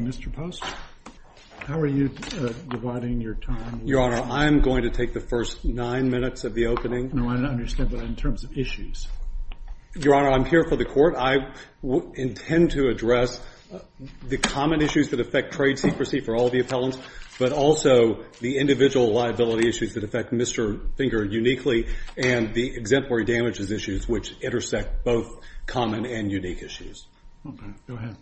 Mr. Post, how are you dividing your time? Your Honor, I'm going to take the first nine minutes of the opening. No, I don't understand, but in terms of issues? Your Honor, I'm here for the Court. I intend to address the common issues that affect trade secrecy for all the appellants, but also the individual liability issues that affect Mr. Finger uniquely, and the exemplary damages issues, which intersect both common and unique issues. Okay, go ahead.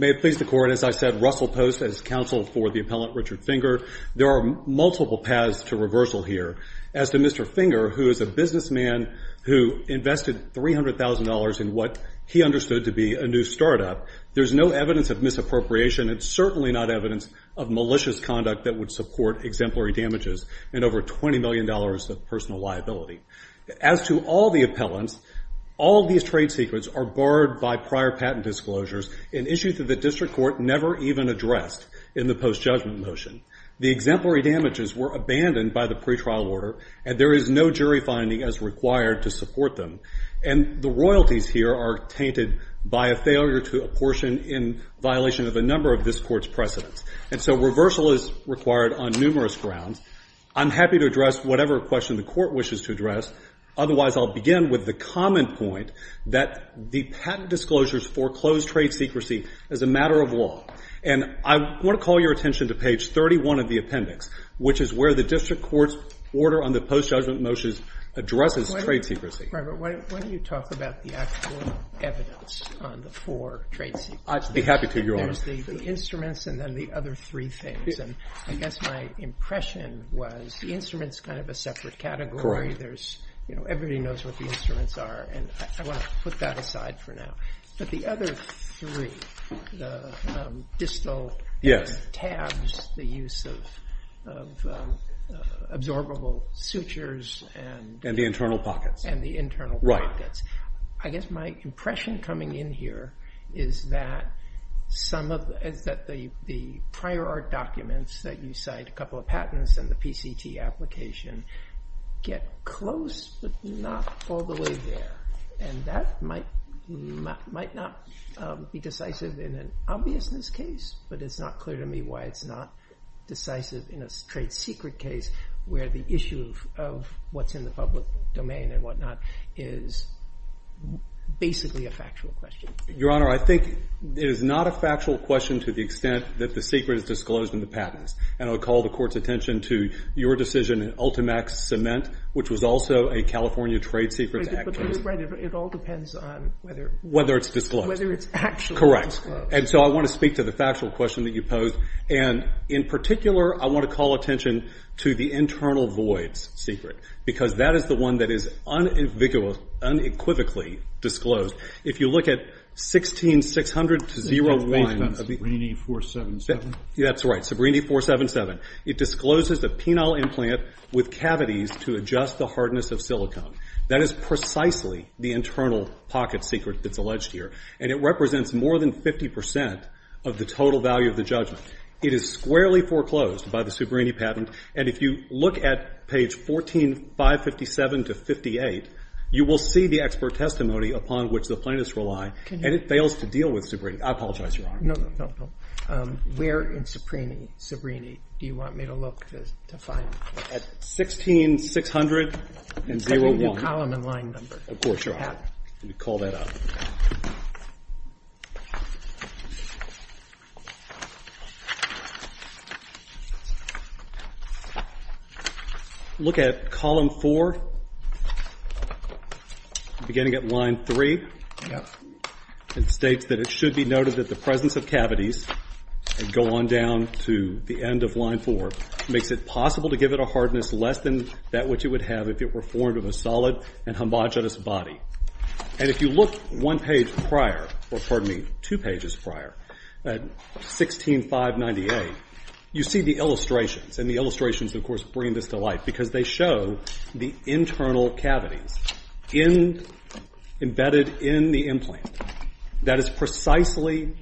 May it please the Court, as I said, Russell Post is counsel for the appellant Richard Finger. There are multiple paths to reversal here. As to Mr. Finger, who is a businessman who invested $300,000 in what he understood to be a new startup, there's no evidence of misappropriation and certainly not evidence of malicious conduct that would support exemplary damages and over $20 million of personal liability. As to all the appellants, all these trade secrets are barred by prior patent disclosures and issued to the district court never even addressed in the post-judgment motion. The exemplary damages were abandoned by the pretrial order, and there is no jury finding as required to support them. And the royalties here are tainted by a failure to apportion in violation of a number of this court's precedents. And so reversal is required on numerous grounds. I'm happy to address whatever question the court wishes to address. Otherwise, I'll begin with the common point that the patent disclosures foreclose trade secrecy as a matter of law. And I want to call your attention to page 31 of the appendix, which is where the district court's order on the post-judgment motions addresses trade secrecy. Mr. Kramer, why don't you talk about the actual evidence on the four trade secrets? I'd be happy to, Your Honor. There's the instruments and then the other three things. And I guess my impression was the instrument's kind of a separate category. Correct. Everybody knows what the instruments are, and I want to put that aside for now. But the other three, the distal tabs, the use of absorbable sutures, and the internal pockets. I guess my impression coming in here is that the prior art documents that you cite, a couple of patents and the PCT application, get close but not all the way there. And that might not be decisive in an obviousness case, but it's not clear to me why it's not decisive in a trade secret case where the issue of what's in the public domain and whatnot is basically a factual question. Your Honor, I think it is not a factual question to the extent that the secret is disclosed in the patents. And I'll call the Court's attention to your decision in Ultimax Cement, which was also a California Trade Secrets Act case. But it all depends on whether it's actually disclosed. Correct. And so I want to speak to the factual question that you posed. And in particular, I want to call attention to the internal voids secret because that is the one that is unequivocally disclosed. If you look at 16-600-01. Sabrina 477. That's right, Sabrina 477. It discloses a penile implant with cavities to adjust the hardness of silicone. That is precisely the internal pocket secret that's alleged here. And it represents more than 50 percent of the total value of the judgment. It is squarely foreclosed by the Subrini patent. And if you look at page 14-557-58, you will see the expert testimony upon which the plaintiffs rely. And it fails to deal with Subrini. I apologize, Your Honor. No, no, no, no. Where in Subrini do you want me to look to find it? At 16-600-01. I can give you a column and line number. Of course, Your Honor. Let me call that up. Look at column 4, beginning at line 3. Yep. It states that it should be noted that the presence of cavities, and go on down to the end of line 4, makes it possible to give it a hardness less than that which it would have if it were formed of a solid and homogenous body. And if you look one page prior, or pardon me, two pages prior, at 16-598, you see the illustrations. And the illustrations, of course, bring this to light because they show the internal cavities embedded in the implant. That is precisely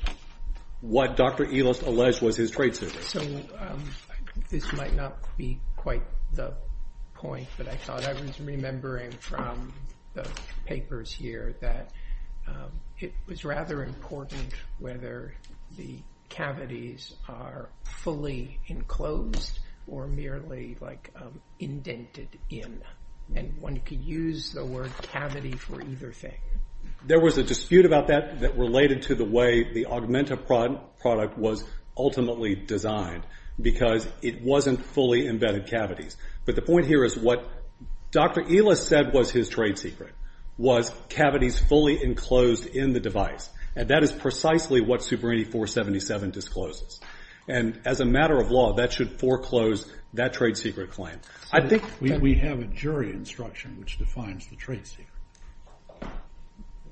what Dr. Elist alleged was his trade secret. So this might not be quite the point that I thought. I was remembering from the papers here that it was rather important whether the cavities are fully enclosed or merely indented in. And one could use the word cavity for either thing. There was a dispute about that that related to the way the Augmenta product was ultimately designed, because it wasn't fully embedded cavities. But the point here is what Dr. Elist said was his trade secret was cavities fully enclosed in the device. And that is precisely what Superintendent 477 discloses. And as a matter of law, that should foreclose that trade secret claim. I think that We have a jury instruction which defines the trade secret.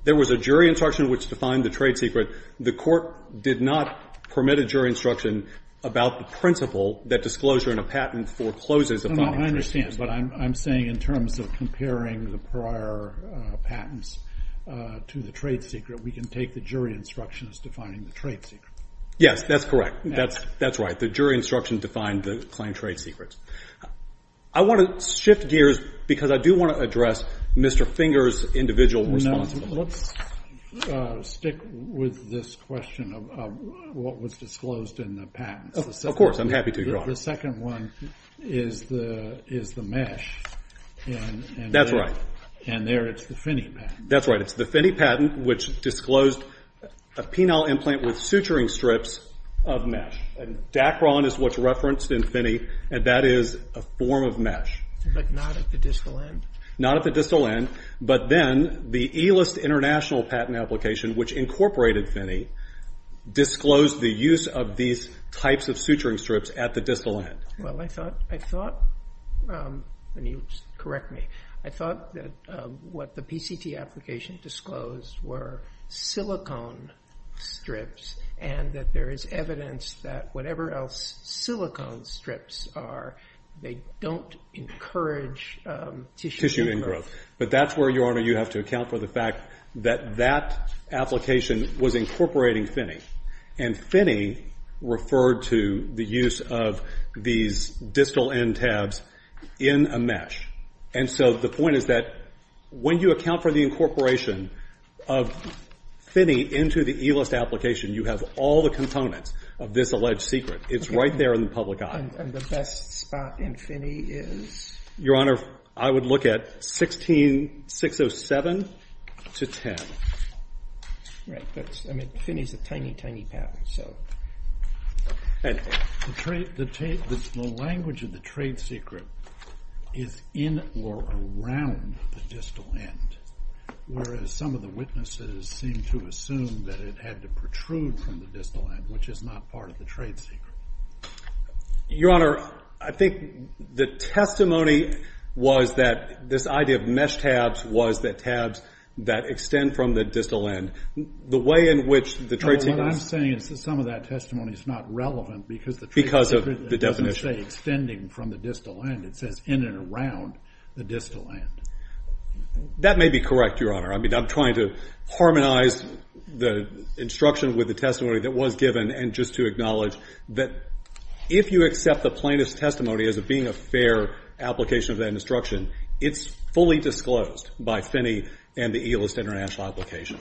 There was a jury instruction which defined the trade secret. The Court did not permit a jury instruction about the principle that disclosure in a patent forecloses a patent trade secret. I understand. But I'm saying in terms of comparing the prior patents to the trade secret, we can take the jury instruction as defining the trade secret. Yes. That's correct. That's right. The jury instruction defined the claimed trade secrets. I want to shift gears because I do want to address Mr. Finger's individual responsibility. Let's stick with this question of what was disclosed in the patents. Of course. I'm happy to. The second one is the mesh. That's right. And there it's the Finney patent. That's right. It's the Finney patent which disclosed a penile implant with suturing strips of mesh and Dacron is what's referenced in Finney, and that is a form of mesh. But not at the distal end. Not at the distal end. But then the ELIST International patent application, which incorporated Finney, disclosed the use of these types of suturing strips at the distal end. Well, I thought, and you correct me, I thought that what the PCT application disclosed were silicone strips and that there is evidence that whatever else silicone strips are, they don't encourage tissue growth. But that's where, Your Honor, you have to account for the fact that that application was incorporating Finney. And Finney referred to the use of these distal end tabs in a mesh. And so the point is that when you account for the incorporation of Finney into the ELIST application, you have all the components of this alleged secret. It's right there in the public eye. And the best spot in Finney is? Your Honor, I would look at 16607 to 10. Right. But Finney is a tiny, tiny patent, so. The language of the trade secret is in or around the distal end, whereas some of the witnesses seem to assume that it had to protrude from the distal end, which is not part of the trade secret. Your Honor, I think the testimony was that this idea of mesh tabs was the tabs that extend from the distal end. The way in which the trade secret is. No, what I'm saying is that some of that testimony is not relevant because the trade secret. Because of the definition. It doesn't say extending from the distal end. It says in and around the distal end. That may be correct, Your Honor. I mean, I'm trying to harmonize the instruction with the testimony that was given and just to acknowledge that if you accept the plaintiff's testimony as it being a fair application of that instruction, it's fully disclosed by Finney and the ELIST international application.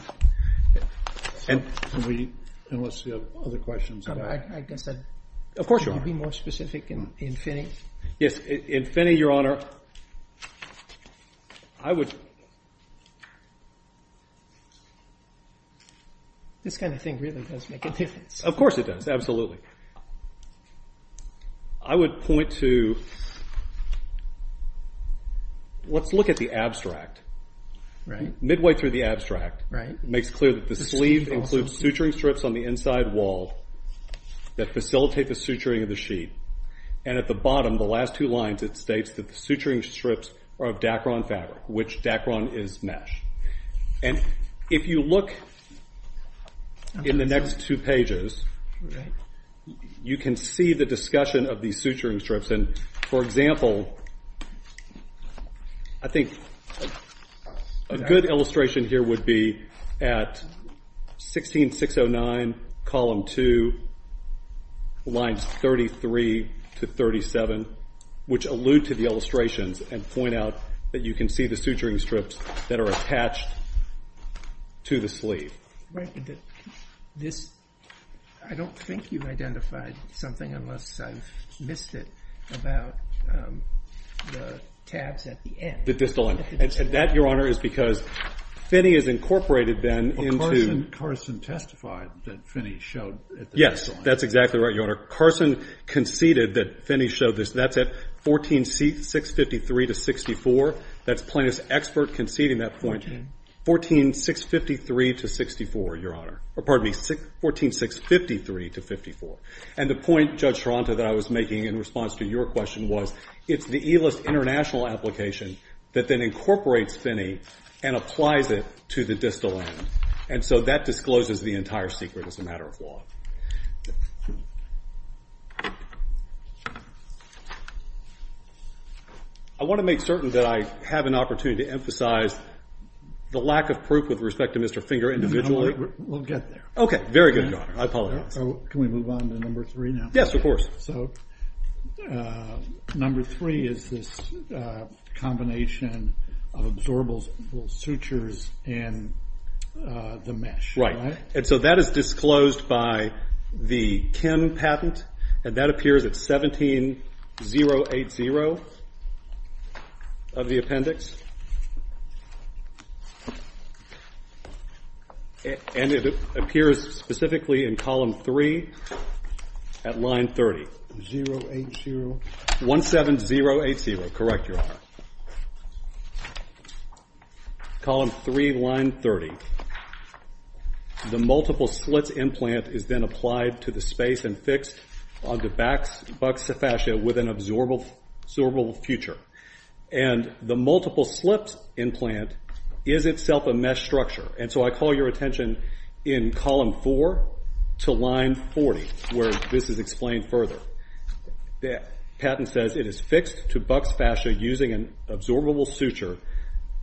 And we, unless you have other questions. I guess I'd. Of course, Your Honor. Can you be more specific in Finney? Yes, in Finney, Your Honor. I would. This kind of thing really does make a difference. Of course it does. I would point to. Let's look at the abstract. Right. Midway through the abstract. Right. Makes clear that the sleeve includes suturing strips on the inside wall that facilitate the suturing of the sheet. And at the bottom, the last two lines, it states that the suturing strips are of Dacron fabric, which Dacron is mesh. And if you look in the next two pages, you can see the discussion of these suturing strips. And, for example, I think a good illustration here would be at 16609, column two, lines 33 to 37, which allude to the illustrations and point out that you can see the suturing strips that are attached to the sleeve. Right. This, I don't think you've identified something, unless I've missed it, about the tabs at the end. The distal end. The distal end. And that, Your Honor, is because Finney has incorporated then into. Carson testified that Finney showed at the distal end. That's exactly right, Your Honor. Carson conceded that Finney showed this. That's at 14653-64. That's plaintiff's expert conceding that point. 14? 14653-64, Your Honor. Or, pardon me, 14653-54. And the point, Judge Taranto, that I was making in response to your question was it's the ELIST international application that then incorporates Finney and applies it to the distal end. And so that discloses the entire secret as a matter of law. I want to make certain that I have an opportunity to emphasize the lack of proof with respect to Mr. Finger individually. We'll get there. Okay, very good, Your Honor. I apologize. Can we move on to number three now? Yes, of course. So number three is this combination of absorbable sutures in the mesh. And so that is disclosed by the Kim patent, and that appears at 17-080 of the appendix. And it appears specifically in column three at line 30. 080? 17-080. Correct, Your Honor. Column three, line 30. The multiple slits implant is then applied to the space and fixed on the back's buccal fascia with an absorbable suture. And the multiple slips implant is itself a mesh structure. And so I call your attention in column four to line 40, where this is explained further. The patent says it is fixed to buccal fascia using an absorbable suture.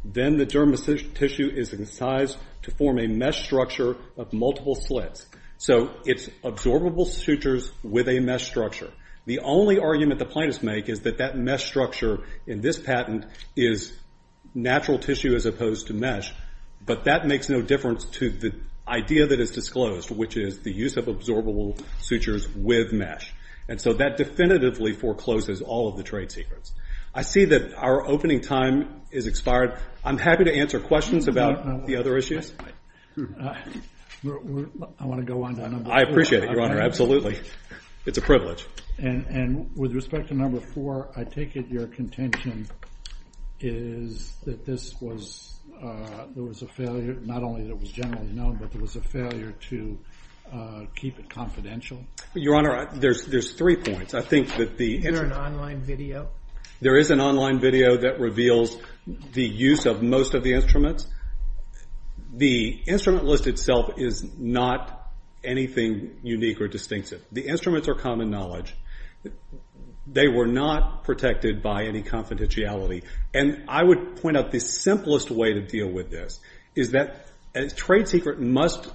Then the dermal tissue is incised to form a mesh structure of multiple slits. So it's absorbable sutures with a mesh structure. The only argument the plaintiffs make is that that mesh structure in this patent is natural tissue as opposed to mesh, but that makes no difference to the idea that is disclosed, which is the use of absorbable sutures with mesh. And so that definitively forecloses all of the trade secrets. I see that our opening time has expired. I'm happy to answer questions about the other issues. I want to go on to number four. I appreciate it, Your Honor, absolutely. It's a privilege. And with respect to number four, I take it your contention is that this was a failure, not only that it was generally known, but there was a failure to keep it confidential? Your Honor, there's three points. Is there an online video? There is an online video that reveals the use of most of the instruments. The instrument list itself is not anything unique or distinctive. The instruments are common knowledge. They were not protected by any confidentiality. And I would point out the simplest way to deal with this is that a trade secret must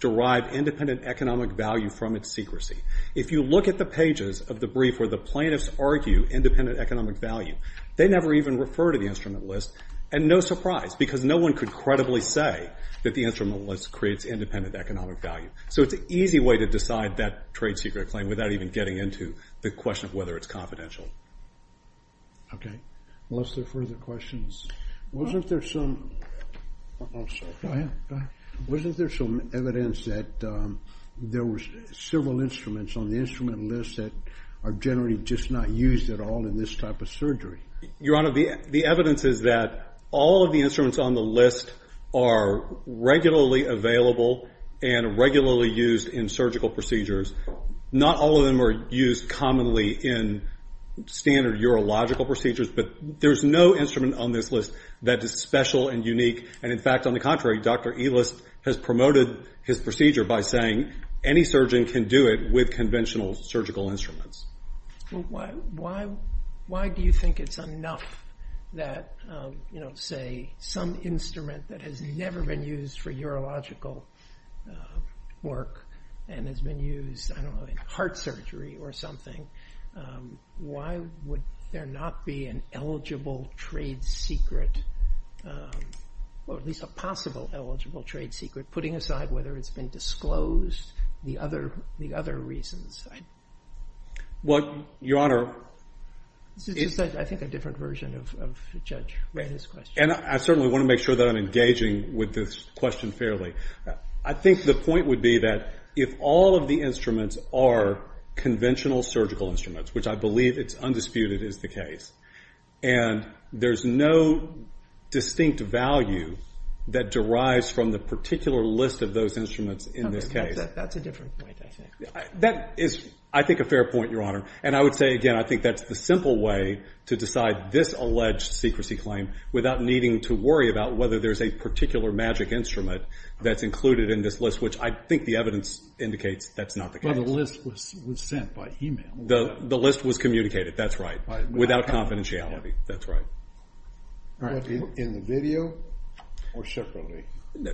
derive independent economic value from its secrecy. If you look at the pages of the brief where the plaintiffs argue independent economic value, they never even refer to the instrument list, and no surprise, because no one could credibly say that the instrument list creates independent economic value. So it's an easy way to decide that trade secret claim without even getting into the question of whether it's confidential. Okay. Unless there are further questions. Wasn't there some evidence that there were several instruments on the instrument list that are generally just not used at all in this type of surgery? Your Honor, the evidence is that all of the instruments on the list are regularly available and regularly used in surgical procedures. Not all of them are used commonly in standard urological procedures, but there's no instrument on this list that is special and unique. And, in fact, on the contrary, Dr. Elist has promoted his procedure by saying any surgeon can do it with conventional surgical instruments. Why do you think it's enough that, say, some instrument that has never been used for urological work and has been used, I don't know, in heart surgery or something, why would there not be an eligible trade secret, or at least a possible eligible trade secret, putting aside whether it's been disclosed, the other reasons? Well, Your Honor... I think a different version of Judge Rehn's question. And I certainly want to make sure that I'm engaging with this question fairly. I think the point would be that if all of the instruments are conventional surgical instruments, which I believe it's undisputed is the case, and there's no distinct value that derives from the particular list of those instruments in this case... That's a different point, I think. That is, I think, a fair point, Your Honor. And I would say, again, I think that's the simple way to decide this alleged secrecy claim without needing to worry about whether there's a particular magic instrument that's included in this list, which I think the evidence indicates that's not the case. Well, the list was sent by e-mail. The list was communicated, that's right, without confidentiality, that's right. In the video or separately?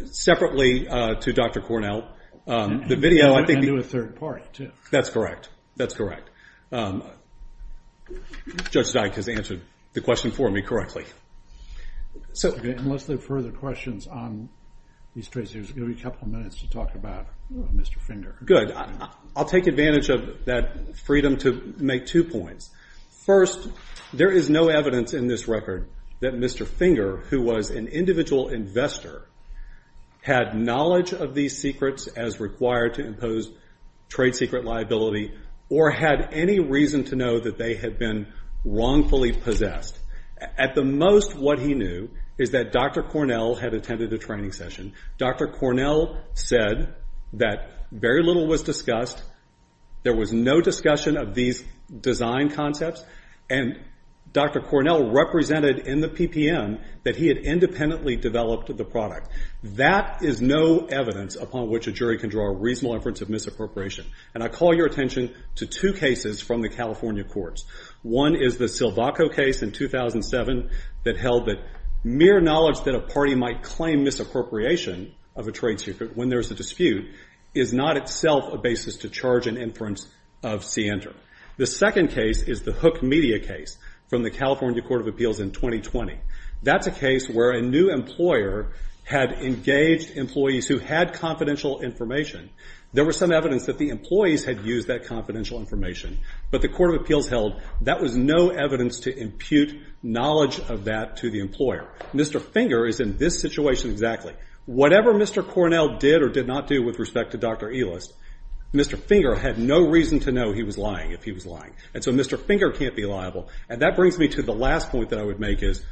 Separately to Dr. Cornell. I knew a third party, too. That's correct, that's correct. Judge Dyke has answered the question for me correctly. Unless there are further questions on these trade secrets, there will be a couple of minutes to talk about Mr. Finger. Good. I'll take advantage of that freedom to make two points. First, there is no evidence in this record that Mr. Finger, who was an individual investor, had knowledge of these secrets as required to impose trade secret liability or had any reason to know that they had been wrongfully possessed. At the most, what he knew is that Dr. Cornell had attended a training session. Dr. Cornell said that very little was discussed. There was no discussion of these design concepts, and Dr. Cornell represented in the PPM that he had independently developed the product. That is no evidence upon which a jury can draw a reasonable inference of misappropriation, and I call your attention to two cases from the California courts. One is the Silvaco case in 2007 that held that mere knowledge that a party might claim misappropriation of a trade secret when there is a dispute is not itself a basis to charge an inference of CENTER. The second case is the Hook Media case from the California Court of Appeals in 2020. That's a case where a new employer had engaged employees who had confidential information. There was some evidence that the employees had used that confidential information, but the Court of Appeals held that was no evidence to impute knowledge of that to the employer. Mr. Finger is in this situation exactly. Whatever Mr. Cornell did or did not do with respect to Dr. Elist, Mr. Finger had no reason to know he was lying, if he was lying. And so Mr. Finger can't be liable. And that brings me to the last point that I would make is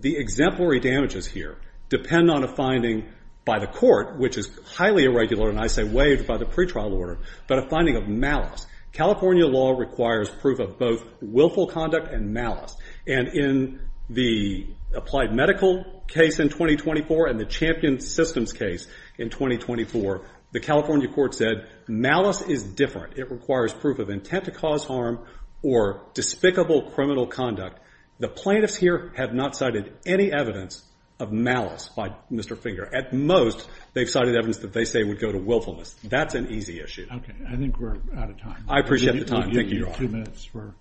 the exemplary damages here depend on a finding by the court, which is highly irregular, and I say waived by the pretrial order, but a finding of malice. California law requires proof of both willful conduct and malice. And in the applied medical case in 2024 and the Champion Systems case in 2024, the California court said malice is different. It requires proof of intent to cause harm or despicable criminal conduct. The plaintiffs here have not cited any evidence of malice by Mr. Finger. At most, they've cited evidence that they say would go to willfulness. That's an easy issue. Okay. I think we're out of time. I appreciate the time. Thank you, Your Honor. We have two minutes for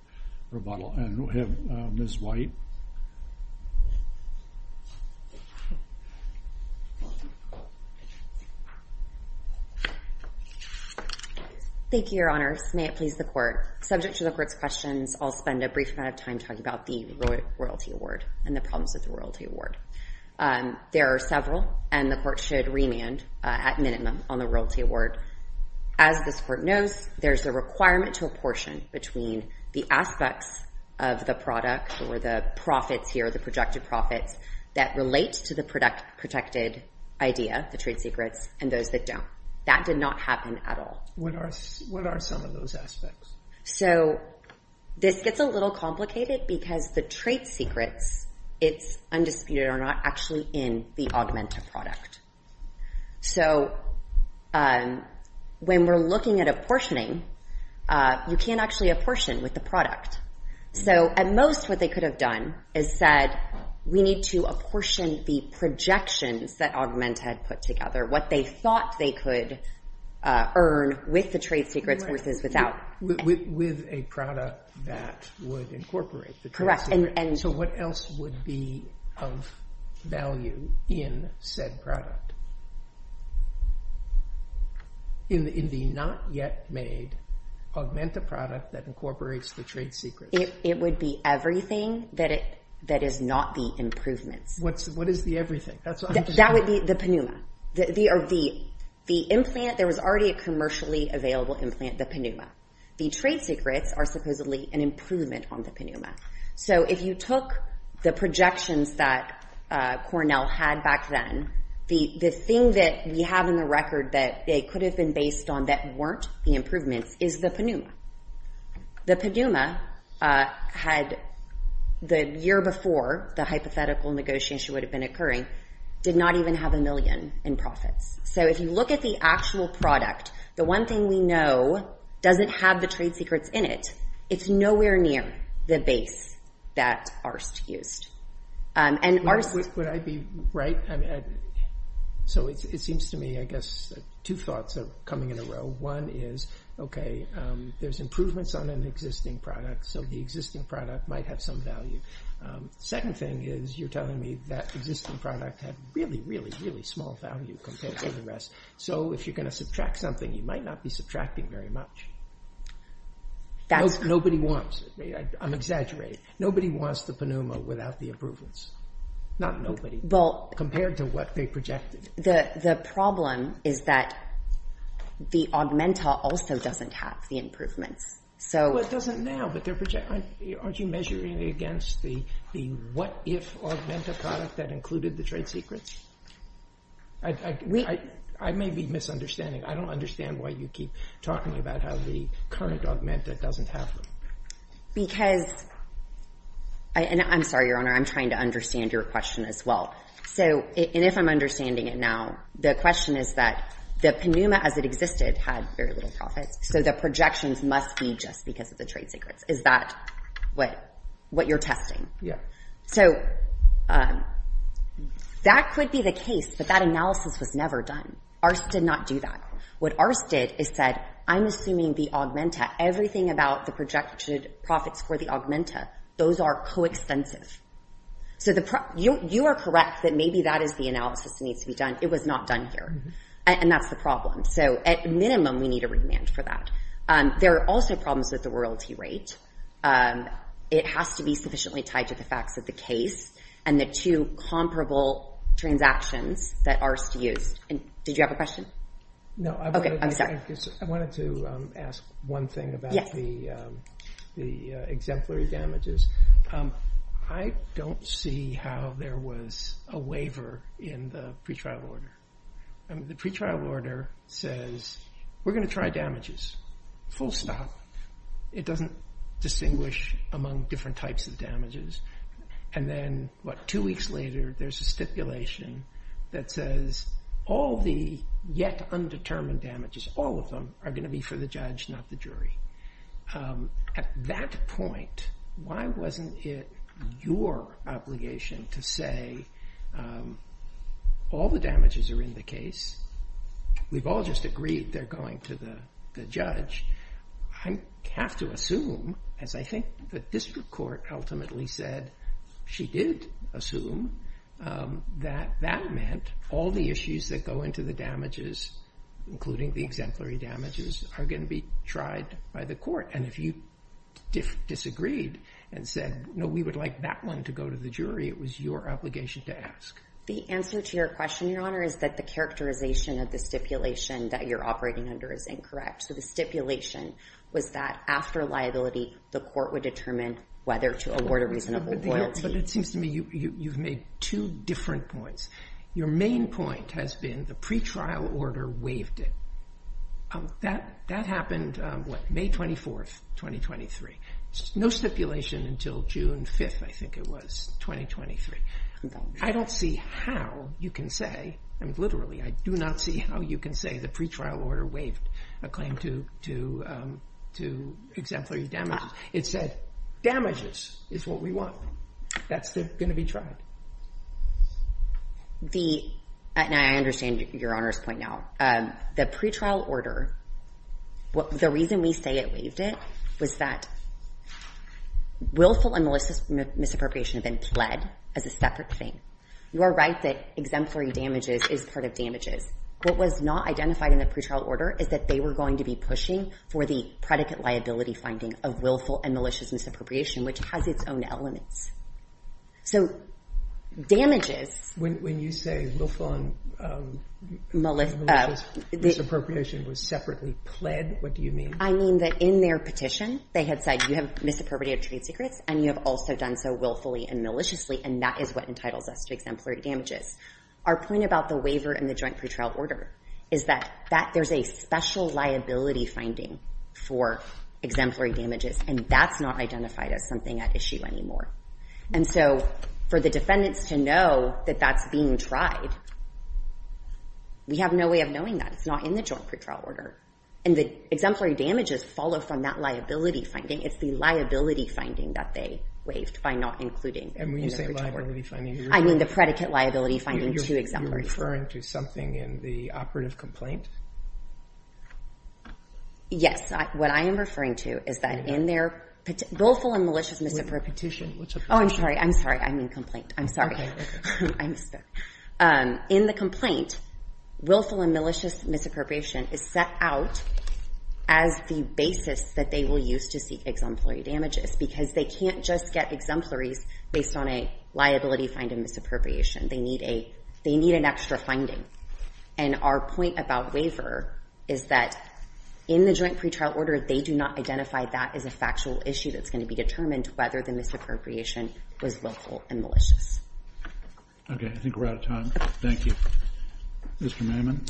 rebuttal, and we'll have Ms. White. Thank you, Your Honors. May it please the court. Subject to the court's questions, I'll spend a brief amount of time talking about the royalty award and the problems with the royalty award. There are several, and the court should remand at minimum on the royalty award. As this court knows, there's a requirement to apportion between the aspects of the product or the profits here, the projected profits, that relate to the protected idea, the trade secrets, and those that don't. That did not happen at all. What are some of those aspects? So this gets a little complicated because the trade secrets, it's undisputed, are not actually in the augmented product. So when we're looking at apportioning, you can't actually apportion with the product. So at most, what they could have done is said, we need to apportion the projections that Augment had put together, what they thought they could earn with the trade secrets versus without. With a product that would incorporate the trade secrets. So what else would be of value in said product? In the not yet made Augmenta product that incorporates the trade secrets? It would be everything that is not the improvements. What is the everything? That would be the PANUMA. The implant, there was already a commercially available implant, the PANUMA. The trade secrets are supposedly an improvement on the PANUMA. So if you took the projections that Cornell had back then, the thing that we have in the record that they could have been based on that weren't the improvements is the PANUMA. The PANUMA had, the year before the hypothetical negotiation would have been occurring, did not even have a million in profits. So if you look at the actual product, the one thing we know doesn't have the trade secrets in it. It's nowhere near the base that Arst used. Would I be right? So it seems to me, I guess, two thoughts are coming in a row. One is, okay, there's improvements on an existing product. So the existing product might have some value. Second thing is, you're telling me that existing product had really, really, really small value compared to the rest. So if you're going to subtract something, you might not be subtracting very much. Nobody wants it. I'm exaggerating. Nobody wants the PANUMA without the improvements. Not nobody. Compared to what they projected. The problem is that the Augmenta also doesn't have the improvements. Well, it doesn't now, but aren't you measuring against the what-if Augmenta product that included the trade secrets? I may be misunderstanding. I don't understand why you keep talking about how the current Augmenta doesn't have them. Because, and I'm sorry, Your Honor, I'm trying to understand your question as well. And if I'm understanding it now, the question is that the PANUMA as it existed had very little profits. So the projections must be just because of the trade secrets. Is that what you're testing? So that could be the case, but that analysis was never done. ARCE did not do that. What ARCE did is said, I'm assuming the Augmenta, everything about the projected profits for the Augmenta, those are coextensive. So you are correct that maybe that is the analysis that needs to be done. It was not done here. And that's the problem. So at minimum, we need a remand for that. There are also problems with the royalty rate. It has to be sufficiently tied to the facts of the case and the two comparable transactions that ARCE used. Did you have a question? No. Okay, I'm sorry. I wanted to ask one thing about the exemplary damages. I don't see how there was a waiver in the pretrial order. The pretrial order says, we're going to try damages, full stop. It doesn't distinguish among different types of damages. And then, what, two weeks later, there's a stipulation that says all the yet undetermined damages, all of them, are going to be for the judge, not the jury. At that point, why wasn't it your obligation to say all the damages are in the case? We've all just agreed they're going to the judge. I have to assume, as I think the district court ultimately said she did assume, that that meant all the issues that go into the damages, including the exemplary damages, are going to be tried by the court. And if you disagreed and said, no, we would like that one to go to the jury, it was your obligation to ask. The answer to your question, Your Honor, is that the characterization of the stipulation that you're operating under is incorrect. So the stipulation was that after liability, the court would determine whether to award a reasonable loyalty. But it seems to me you've made two different points. Your main point has been the pretrial order waived it. That happened, what, May 24th, 2023. No stipulation until June 5th, I think it was, 2023. I don't see how you can say, literally, I do not see how you can say the pretrial order waived a claim to exemplary damages. It said damages is what we want. That's going to be tried. And I understand Your Honor's point now. The pretrial order, the reason we say it waived it was that willful and malicious misappropriation have been pled as a separate thing. You are right that exemplary damages is part of damages. What was not identified in the pretrial order is that they were going to be pushing for the predicate liability finding of willful and malicious misappropriation, which has its own elements. So damages. When you say willful and malicious misappropriation was separately pled, what do you mean? I mean that in their petition they had said you have misappropriated trade secrets and you have also done so willfully and maliciously, and that is what entitles us to exemplary damages. Our point about the waiver and the joint pretrial order is that there's a special liability finding for exemplary damages, and that's not identified as something at issue anymore. And so for the defendants to know that that's being tried, we have no way of knowing that. It's not in the joint pretrial order. And the exemplary damages follow from that liability finding. It's the liability finding that they waived by not including in the pretrial order. And when you say liability finding, you're referring to? I mean the predicate liability finding to exemplary damages. You're referring to something in the operative complaint? Yes. What I am referring to is that in their willful and malicious misappropriation. Oh, I'm sorry. I'm sorry. I'm in complaint. I'm sorry. I'm sorry. In the complaint, willful and malicious misappropriation is set out as the basis that they will use to seek exemplary damages, because they can't just get exemplaries based on a liability finding misappropriation. They need an extra finding. And our point about waiver is that in the joint pretrial order, they do not identify that as a factual issue that's going to be determined whether the misappropriation was willful and malicious. Okay. I think we're out of time. Thank you. Mr. Mammon.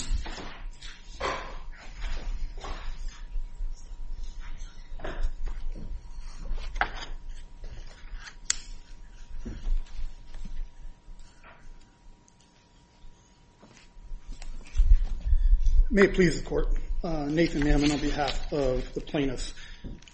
May it please the court. Nathan Mammon on behalf of the plaintiffs.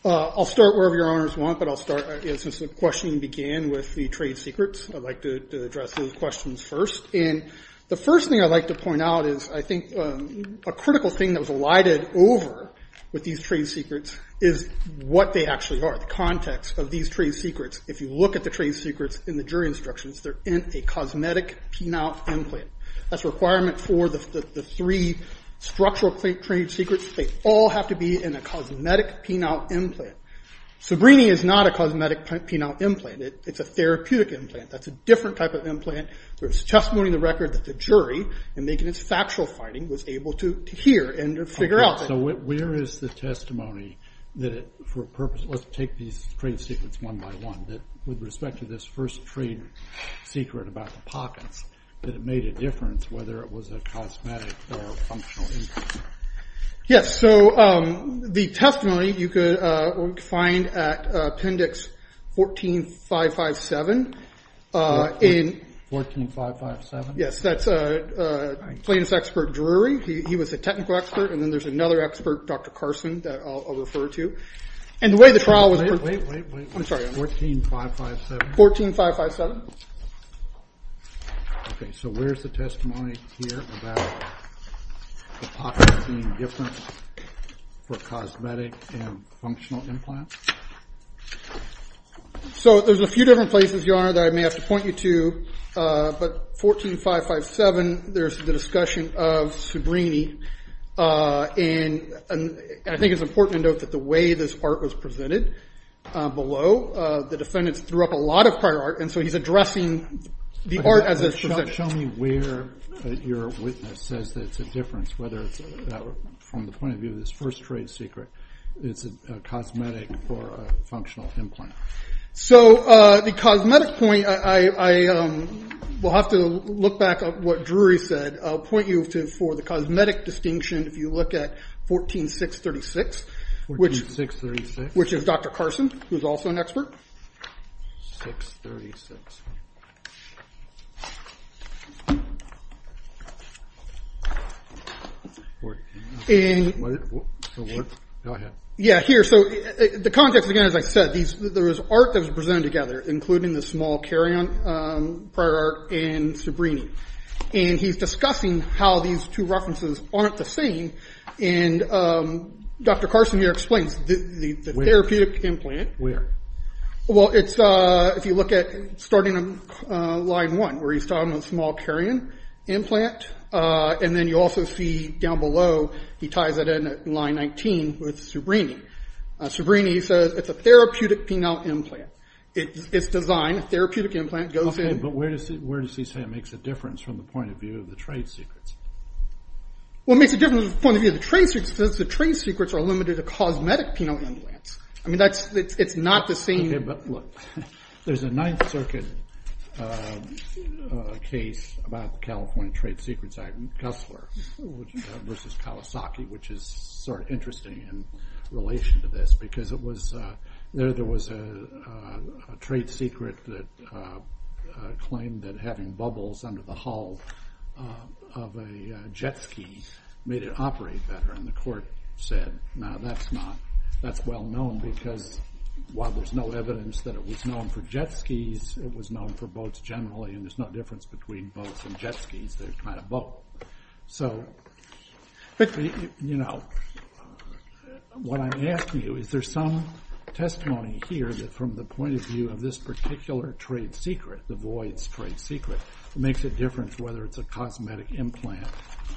I'll start wherever your honors want, but I'll start since the question began with the trade secrets. I'd like to address those questions first. And the first thing I'd like to point out is I think a critical thing that was alighted over with these trade secrets is what they actually are, the context of these trade secrets. If you look at the trade secrets in the jury instructions, they're in a cosmetic penile implant. That's a requirement for the three structural trade secrets. They all have to be in a cosmetic penile implant. Sabrini is not a cosmetic penile implant. It's a therapeutic implant. That's a different type of implant. There's testimony in the record that the jury, in making its factual finding, was able to hear and figure out. So where is the testimony that it, for a purpose, let's take these trade secrets one by one, that with respect to this first trade secret about the pockets, that it made a difference whether it was a cosmetic or functional implant? Yes, so the testimony you could find at appendix 14557. 14557? Yes, that's plaintiff's expert Drury. He was a technical expert. And then there's another expert, Dr. Carson, that I'll refer to. And the way the trial was- Wait, wait, wait. I'm sorry. 14557? 14557. Okay, so where's the testimony here about the pockets being different for cosmetic and functional implants? So there's a few different places, Your Honor, that I may have to point you to. But 14557, there's the discussion of Sabrini. And I think it's important to note that the way this part was presented below, the defendants threw up a lot of prior art. And so he's addressing the art as a- Show me where your witness says that it's a difference, whether it's from the point of view of this first trade secret, it's a cosmetic or a functional implant. So the cosmetic point, I will have to look back at what Drury said. I'll point you for the cosmetic distinction if you look at 14636. 14636? Which is Dr. Carson, who's also an expert. 1636. And- Go ahead. Yeah, here. So the context, again, as I said, there was art that was presented together, including the small carry-on prior art and Sabrini. And he's discussing how these two references aren't the same. And Dr. Carson here explains the therapeutic implant- Where? Well, it's, if you look at starting on line one, where he's talking about the small carry-on implant, and then you also see down below, he ties it in at line 19 with Sabrini. Sabrini says it's a therapeutic penile implant. It's designed, a therapeutic implant goes in- Okay, but where does he say it makes a difference from the point of view of the trade secrets? Well, it makes a difference from the point of view of the trade secrets because the trade secrets are limited to cosmetic penile implants. I mean, that's, it's not the same- Okay, but look, there's a Ninth Circuit case about the California Trade Secrets Act in Cussler versus Kawasaki, which is sort of interesting in relation to this because it was, there was a trade secret that claimed that having bubbles under the hull of a jet ski made it operate better. And the court said, no, that's not, that's well known because while there's no evidence that it was known for jet skis, it was known for boats generally, and there's no difference between boats and jet skis, they're kind of both. So, you know, what I'm asking you, is there some testimony here that from the point of view of this particular trade secret, the voids trade secret, makes a difference whether it's a cosmetic implant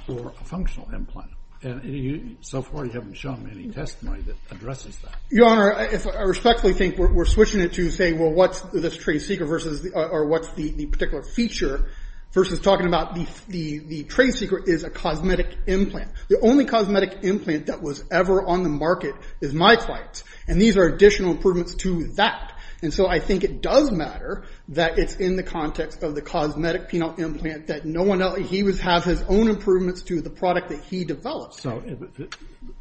or a functional implant? And so far, you haven't shown me any testimony that addresses that. Your Honor, I respectfully think we're switching it to say, well, what's this trade secret versus, or what's the particular feature versus talking about the trade secret is a cosmetic implant. The only cosmetic implant that was ever on the market is my client's, and these are additional improvements to that. And so I think it does matter that it's in the context of the cosmetic penile implant that no one else, he would have his own improvements to the product that he developed. So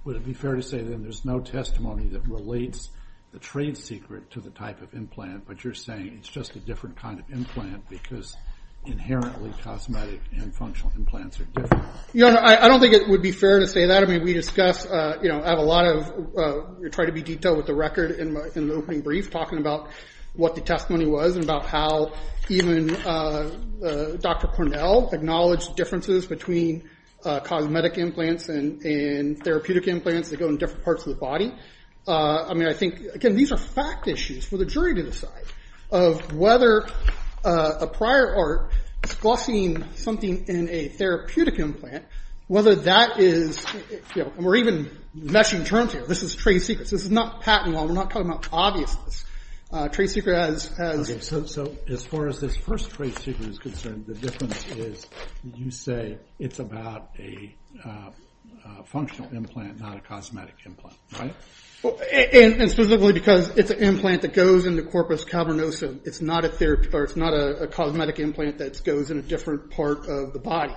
would it be fair to say that there's no testimony that relates the trade secret to the type of implant, but you're saying it's just a different kind of implant because inherently cosmetic and functional implants are different? Your Honor, I don't think it would be fair to say that. I mean, we discuss, you know, have a lot of, try to be detailed with the record in the opening brief, talking about what the testimony was and about how even Dr. Cornell acknowledged differences between cosmetic implants and therapeutic implants that go in different parts of the body. I mean, I think, again, these are fact issues for the jury to decide of whether a prior art discussing something in a therapeutic implant, whether that is, you know, and we're even meshing terms here. This is trade secrets. This is not patent law. We're not talking about obviousness. Trade secret has... Okay, so as far as this first trade secret is concerned, the difference is you say it's about a functional implant, not a cosmetic implant, right? And specifically because it's an implant that goes into corpus cavernosum. It's not a cosmetic implant that goes in a different part of the body.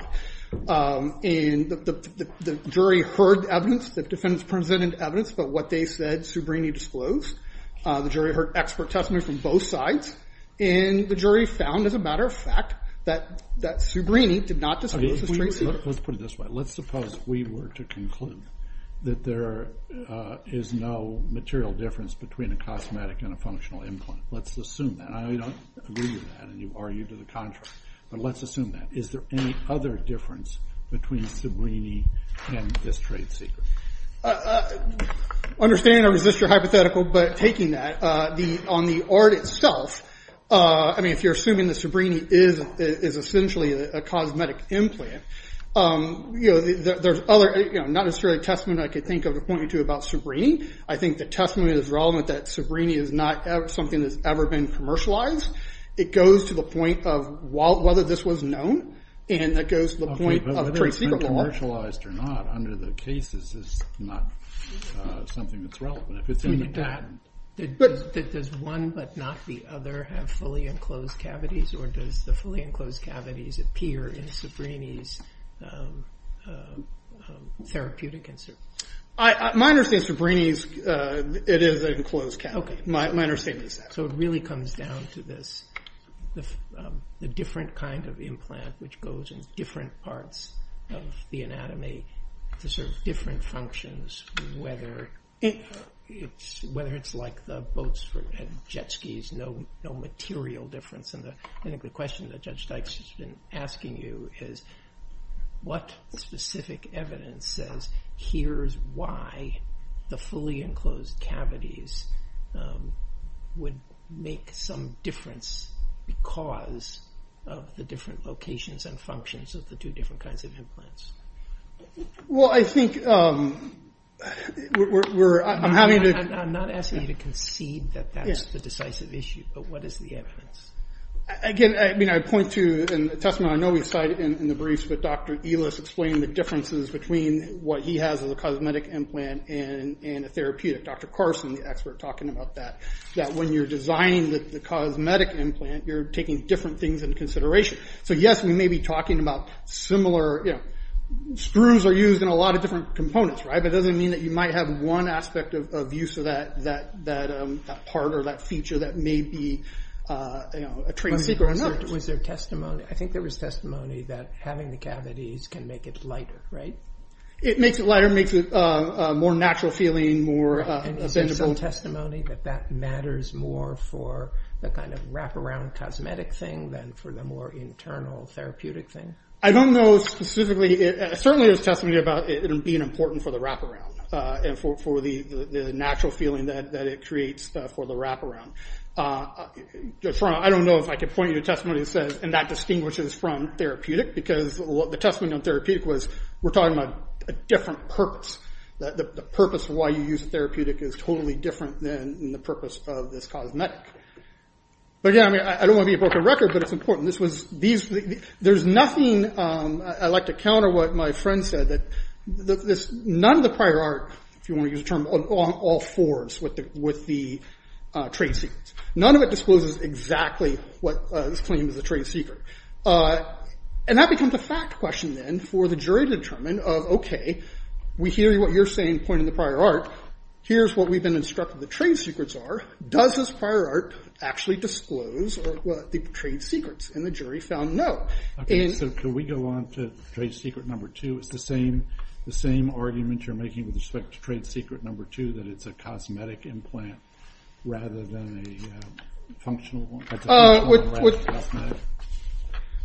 And the jury heard evidence, the defendants presented evidence about what they said Subrini disclosed. The jury heard expert testimony from both sides. And the jury found, as a matter of fact, that Subrini did not disclose this trade secret. Let's put it this way. Let's suppose we were to conclude that there is no material difference between a cosmetic and a functional implant. Let's assume that. I know you don't agree with that and you argue to the contrary, but let's assume that. Is there any other difference between Subrini and this trade secret? Understand or resist your hypothetical, but taking that, on the art itself, I mean, if you're assuming that Subrini is essentially a cosmetic implant, there's other, not necessarily a testament I could think of to point you to about Subrini. I think the testament is relevant that Subrini is not something that's ever been commercialized. It goes to the point of whether this was known, and it goes to the point of trade secret. Whether it's been commercialized or not under the cases is not something that's relevant. Does one but not the other have fully enclosed cavities, or does the fully enclosed cavities appear in Subrini's therapeutic insert? My understanding is Subrini's, it is an enclosed cavity. My understanding is that. So it really comes down to this, the different kind of implant, which goes in different parts of the anatomy to serve different functions, whether it's like the boats had jet skis, no material difference. I think the question that Judge Dykes has been asking you is, what specific evidence says here's why the fully enclosed cavities would make some difference because of the different locations and functions of the two different kinds of implants? I'm not asking you to concede that that's the decisive issue, but what is the evidence? Again, I point to, in the testament, I know we cite it in the briefs, but Dr. Elis explained the differences between what he has as a cosmetic implant and a therapeutic. Dr. Carson, the expert, talking about that, that when you're designing the cosmetic implant, you're taking different things into consideration. So yes, we may be talking about similar, screws are used in a lot of different components, but it doesn't mean that you might have one aspect of use of that part or that feature that may be a trade secret or not. Was there testimony, I think there was testimony that having the cavities can make it lighter, right? It makes it lighter, makes it a more natural feeling, more... And is there some testimony that that matters more for the kind of wraparound cosmetic thing than for the more internal therapeutic thing? I don't know specifically. Certainly there's testimony about it being important for the wraparound and for the natural feeling that it creates for the wraparound. I don't know if I can point you to a testimony that says, and that distinguishes from therapeutic, because the testimony on therapeutic was, we're talking about a different purpose. The purpose of why you use a therapeutic is totally different than the purpose of this cosmetic. But again, I don't want to be a broken record, but it's important. There's nothing, I like to counter what my friend said, that none of the prior art, if you want to use the term, along all fours with the trade secrets. None of it discloses exactly what is claimed as a trade secret. And that becomes a fact question then for the jury to determine of, okay, we hear what you're saying pointing to the prior art. Here's what we've been instructed the trade secrets are. Does this prior art actually disclose the trade secrets? And the jury found no. Okay, so can we go on to trade secret number two? It's the same argument you're making with respect to trade secret number two, that it's a cosmetic implant rather than a functional one.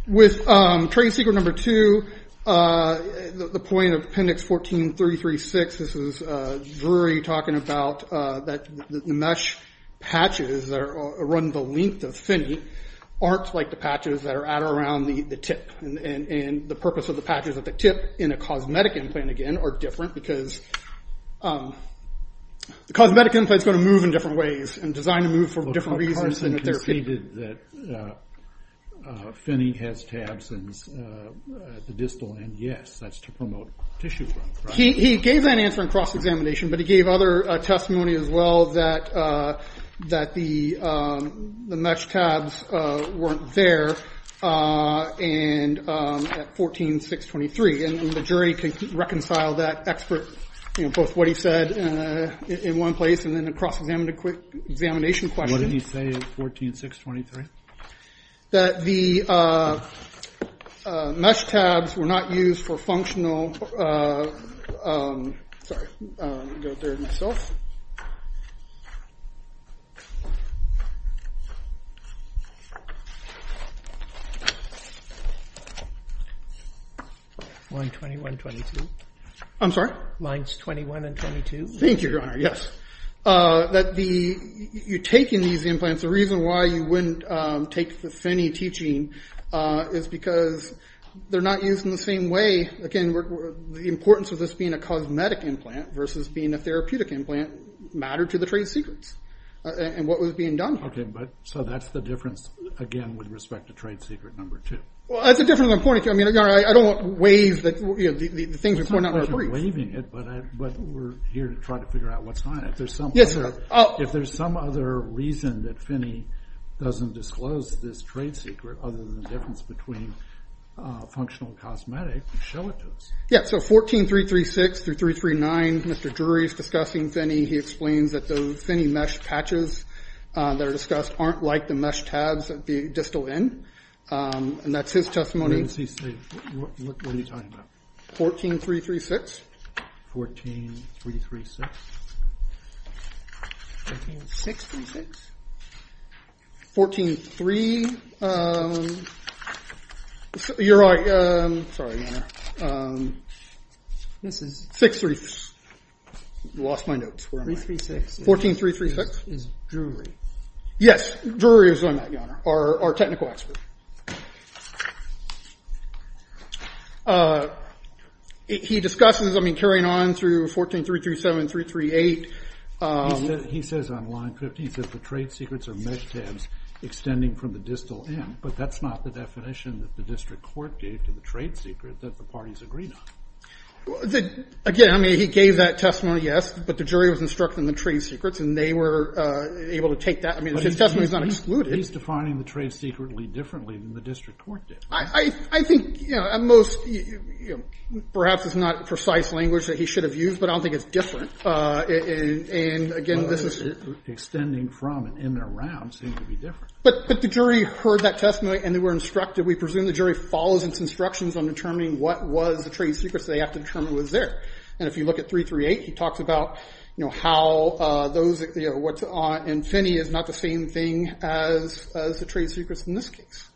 With trade secret number two, the point of appendix 14336, this is Drury talking about that the mesh patches that run the length of Finney aren't like the patches that are at or around the tip. And the purpose of the patches at the tip in a cosmetic implant, again, are different because the cosmetic implant is going to move in different ways and designed to move for different reasons. Carson conceded that Finney has tabs at the distal end. Yes, that's to promote tissue growth. He gave that answer in cross-examination, but he gave other testimony as well that the mesh tabs weren't there at 14623. And the jury reconciled that expert, both what he said in one place and then a cross-examination question. What did he say at 14623? That the mesh tabs were not used for functional. Sorry, I'll go there myself. Line 21, 22. I'm sorry? Lines 21 and 22. Thank you, Your Honor, yes. That you're taking these implants, the reason why you wouldn't take the Finney teaching is because they're not used in the same way. Again, the importance of this being a cosmetic implant versus being a therapeutic implant mattered to the trade secrets and what was being done here. Okay, so that's the difference, again, with respect to trade secret number two. Well, that's a different point. I don't want to waive the things that we're not going to brief. I'm not waiving it, but we're here to try to figure out what's not. Yes, sir. If there's some other reason that Finney doesn't disclose this trade secret other than the difference between functional and cosmetic, show it to us. Yeah, so 14336 through 339, Mr. Drury is discussing Finney. He explains that the Finney mesh patches that are discussed aren't like the mesh tabs of the distal end, and that's his testimony. What is he saying? What are you talking about? 14336. 14336. 14636. 143. You're right. Sorry, Your Honor. 636. Lost my notes. 336. 14336. Is Drury. Yes, Drury is on that, Your Honor, our technical expert. He discusses, I mean, carrying on through 14337 through 338. He says on line 15, he says the trade secrets are mesh tabs extending from the distal end, but that's not the definition that the district court gave to the trade secret that the parties agreed on. Again, I mean, he gave that testimony, yes, but the jury was instructing the trade secrets, and they were able to take that. I mean, his testimony is not excluded. He's defining the trade secretly differently than the district court did. I think, you know, at most, perhaps it's not precise language that he should have used, but I don't think it's different. And, again, this is. Extending from and in and around seems to be different. But the jury heard that testimony, and they were instructed. We presume the jury follows its instructions on determining what was the trade secret, so they have to determine what was there. And if you look at 338, he talks about, you know, how those, you know, and Finney is not the same thing as the trade secrets in this case.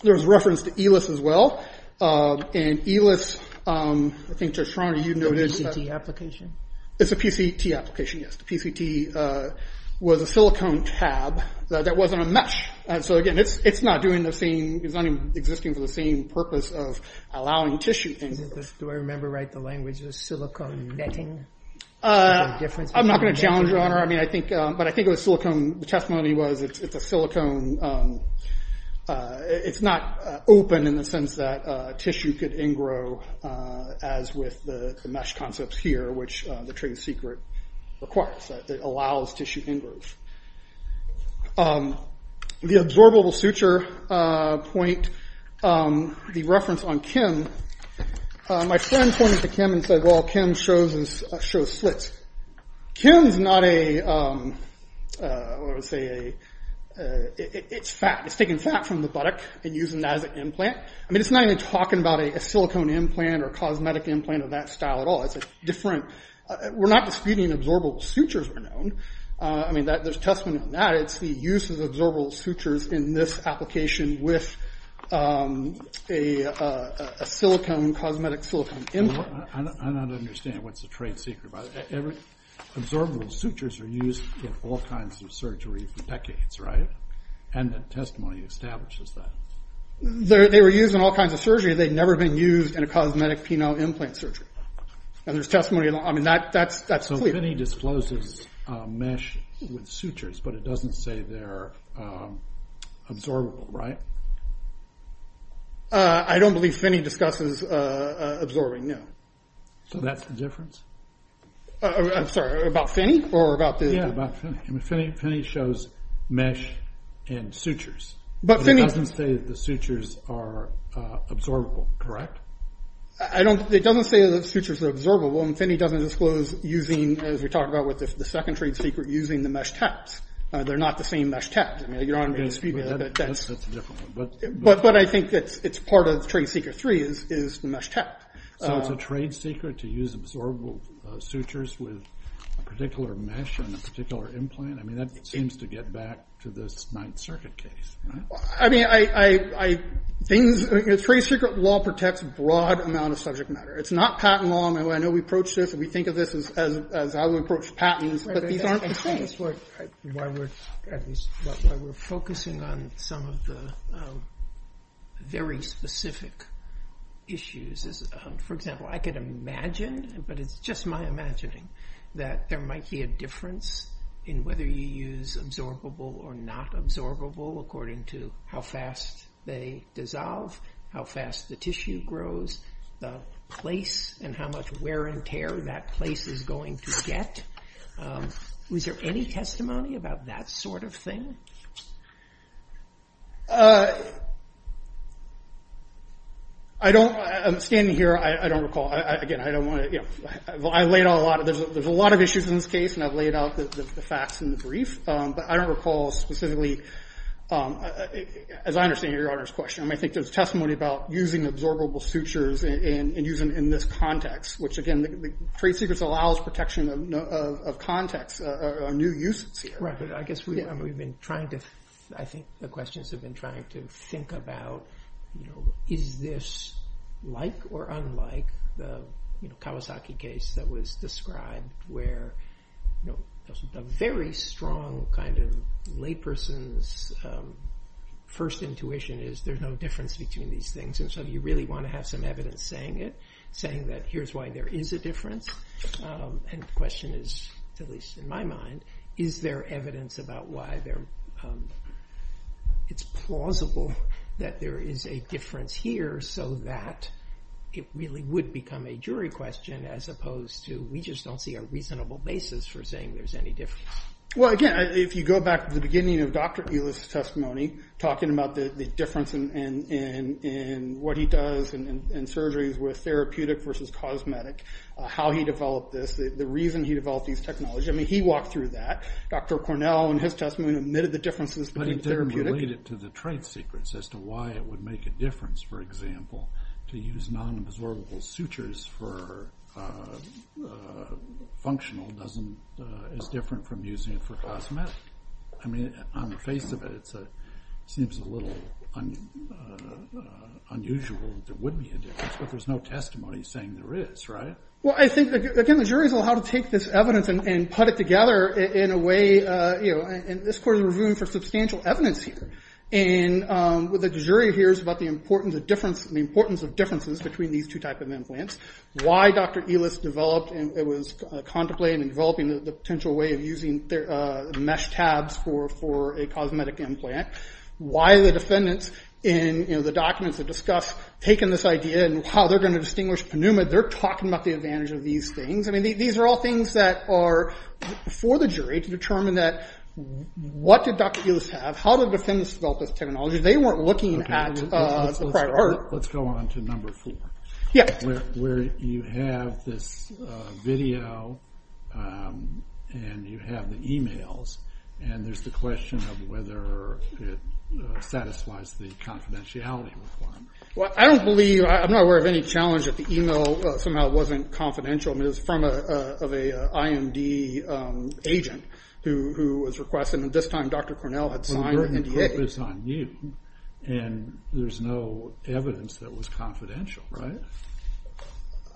There's reference to ELIS as well. And ELIS, I think, Judge Schroeder, you noted. It's a PCT application. It's a PCT application, yes. The PCT was a silicone tab that wasn't a mesh. So, again, it's not doing the same. It's not even existing for the same purpose of allowing tissue things. Do I remember right the language was silicone netting? I'm not going to challenge your honor. I mean, I think, but I think it was silicone. The testimony was it's a silicone. It's not open in the sense that tissue could ingrow as with the mesh concepts here, which the trade secret requires. It allows tissue ingrowth. The absorbable suture point, the reference on Kim. My friend pointed to Kim and said, well, Kim shows slits. Kim's not a, what would I say, a, it's fat. It's taking fat from the buttock and using that as an implant. I mean, it's not even talking about a silicone implant or cosmetic implant of that style at all. It's a different, we're not disputing absorbable sutures are known. I mean, there's testimony on that. It provides the use of absorbable sutures in this application with a silicone, cosmetic silicone implant. I don't understand what's the trade secret. Absorbable sutures are used in all kinds of surgery for decades, right? And the testimony establishes that. They were used in all kinds of surgery. They'd never been used in a cosmetic penile implant surgery. And there's testimony, I mean, that's clear. Phinney discloses mesh with sutures, but it doesn't say they're absorbable, right? I don't believe Phinney discusses absorbing, no. So that's the difference? I'm sorry, about Phinney? Yeah, about Phinney. Phinney shows mesh and sutures. But it doesn't say that the sutures are absorbable, correct? It doesn't say that sutures are absorbable. And Phinney doesn't disclose using, as we talked about with the second trade secret, using the mesh taps. They're not the same mesh taps. I mean, Your Honor may dispute that. That's a different one. But I think it's part of trade secret three is the mesh tap. So it's a trade secret to use absorbable sutures with a particular mesh and a particular implant? I mean, that seems to get back to this Ninth Circuit case, right? I mean, trade secret law protects a broad amount of subject matter. It's not patent law. I know we approach this and we think of this as how we approach patents. But these aren't the same. We're focusing on some of the very specific issues. For example, I could imagine, but it's just my imagining, that there might be a difference in whether you use absorbable or not absorbable according to how fast they dissolve, how fast the tissue grows, the place and how much wear and tear that place is going to get. Was there any testimony about that sort of thing? I don't, I'm standing here, I don't recall. Again, I don't want to, you know, I laid out a lot of, there's a lot of issues in this case and I've laid out the facts in the brief. But I don't recall specifically, as I understand your Honor's question, I think there's testimony about using absorbable sutures and using them in this context, which again, trade secrets allows protection of context, new uses here. Right, but I guess we've been trying to, I think the questions have been trying to think about, you know, is this like or unlike the Kawasaki case that was described where, you know, a very strong kind of layperson's first intuition is there's no difference between these things. And so you really want to have some evidence saying it, saying that here's why there is a difference. And the question is, at least in my mind, is there evidence about why there, it's plausible that there is a difference here so that it really would become a jury question as opposed to we just don't see a reasonable basis for saying there's any difference. Well again, if you go back to the beginning of Dr. Ehlers' testimony, talking about the difference in what he does in surgeries with therapeutic versus cosmetic, how he developed this, the reason he developed these technologies, I mean he walked through that. Dr. Cornell in his testimony admitted the differences between therapeutic. Related to the trade secrets as to why it would make a difference, for example, to use non-absorbable sutures for functional is different from using it for cosmetic. I mean, on the face of it, it seems a little unusual that there would be a difference, but there's no testimony saying there is, right? Well, I think, again, the jury's on how to take this evidence and put it together in a way, you know, and this court is reviewing for substantial evidence here. And what the jury hears about the importance of difference, the importance of differences between these two type of implants, why Dr. Ehlers developed and was contemplating and developing the potential way of using mesh tabs for a cosmetic implant, why the defendants in the documents that discuss taking this idea and how they're going to distinguish Pneuma, they're talking about the advantage of these things. I mean, these are all things that are for the jury to determine that what did Dr. Ehlers have, how did the defendants develop this technology. They weren't looking at the prior art. Let's go on to number four, where you have this video and you have the e-mails, and there's the question of whether it satisfies the confidentiality requirement. Well, I don't believe, I'm not aware of any challenge that the e-mail somehow wasn't confidential. I mean, it was from an IMD agent who was requesting, and at this time, Dr. Cornell had signed the NDA. And there's no evidence that it was confidential, right?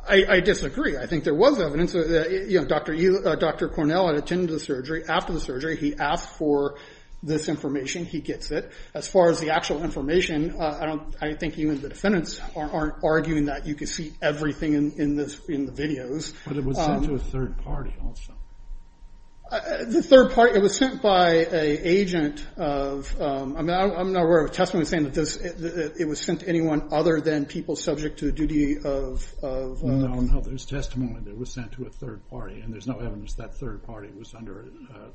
I disagree. I think there was evidence. Dr. Cornell had attended the surgery. After the surgery, he asked for this information. He gets it. As far as the actual information, I think even the defendants aren't arguing that you can see everything in the videos. But it was sent to a third party also. The third party, it was sent by an agent of, I mean, I'm not aware of a testimony saying that it was sent to anyone other than people subject to the duty of- No, no, there's testimony that it was sent to a third party, and there's no evidence that third party was under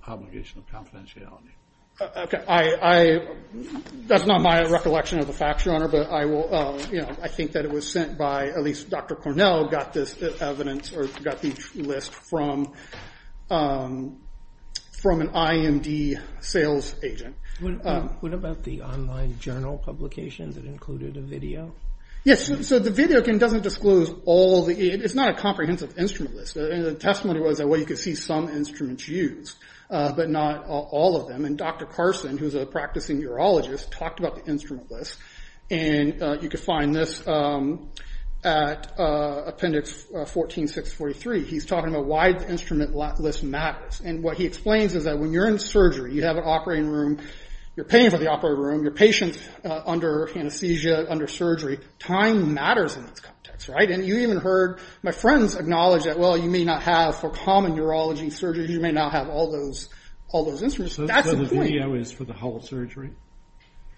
obligation of confidentiality. Okay. I, that's not my recollection of the facts, Your Honor, but I will, you know, I think that it was sent by, at least Dr. Cornell got this evidence, or got the list from an IMD sales agent. What about the online journal publications that included a video? Yes, so the video doesn't disclose all the, it's not a comprehensive instrument list. The testimony was that, well, you could see some instruments used, but not all of them. And Dr. Carson, who's a practicing urologist, talked about the instrument list. And you could find this at appendix 14-643. He's talking about why the instrument list matters. And what he explains is that when you're in surgery, you have an operating room, you're paying for the operating room, your patient's under anesthesia, under surgery, time matters in this context, right? And you even heard my friends acknowledge that, well, you may not have, for common urology surgery, you may not have all those instruments. So the video is for the whole surgery?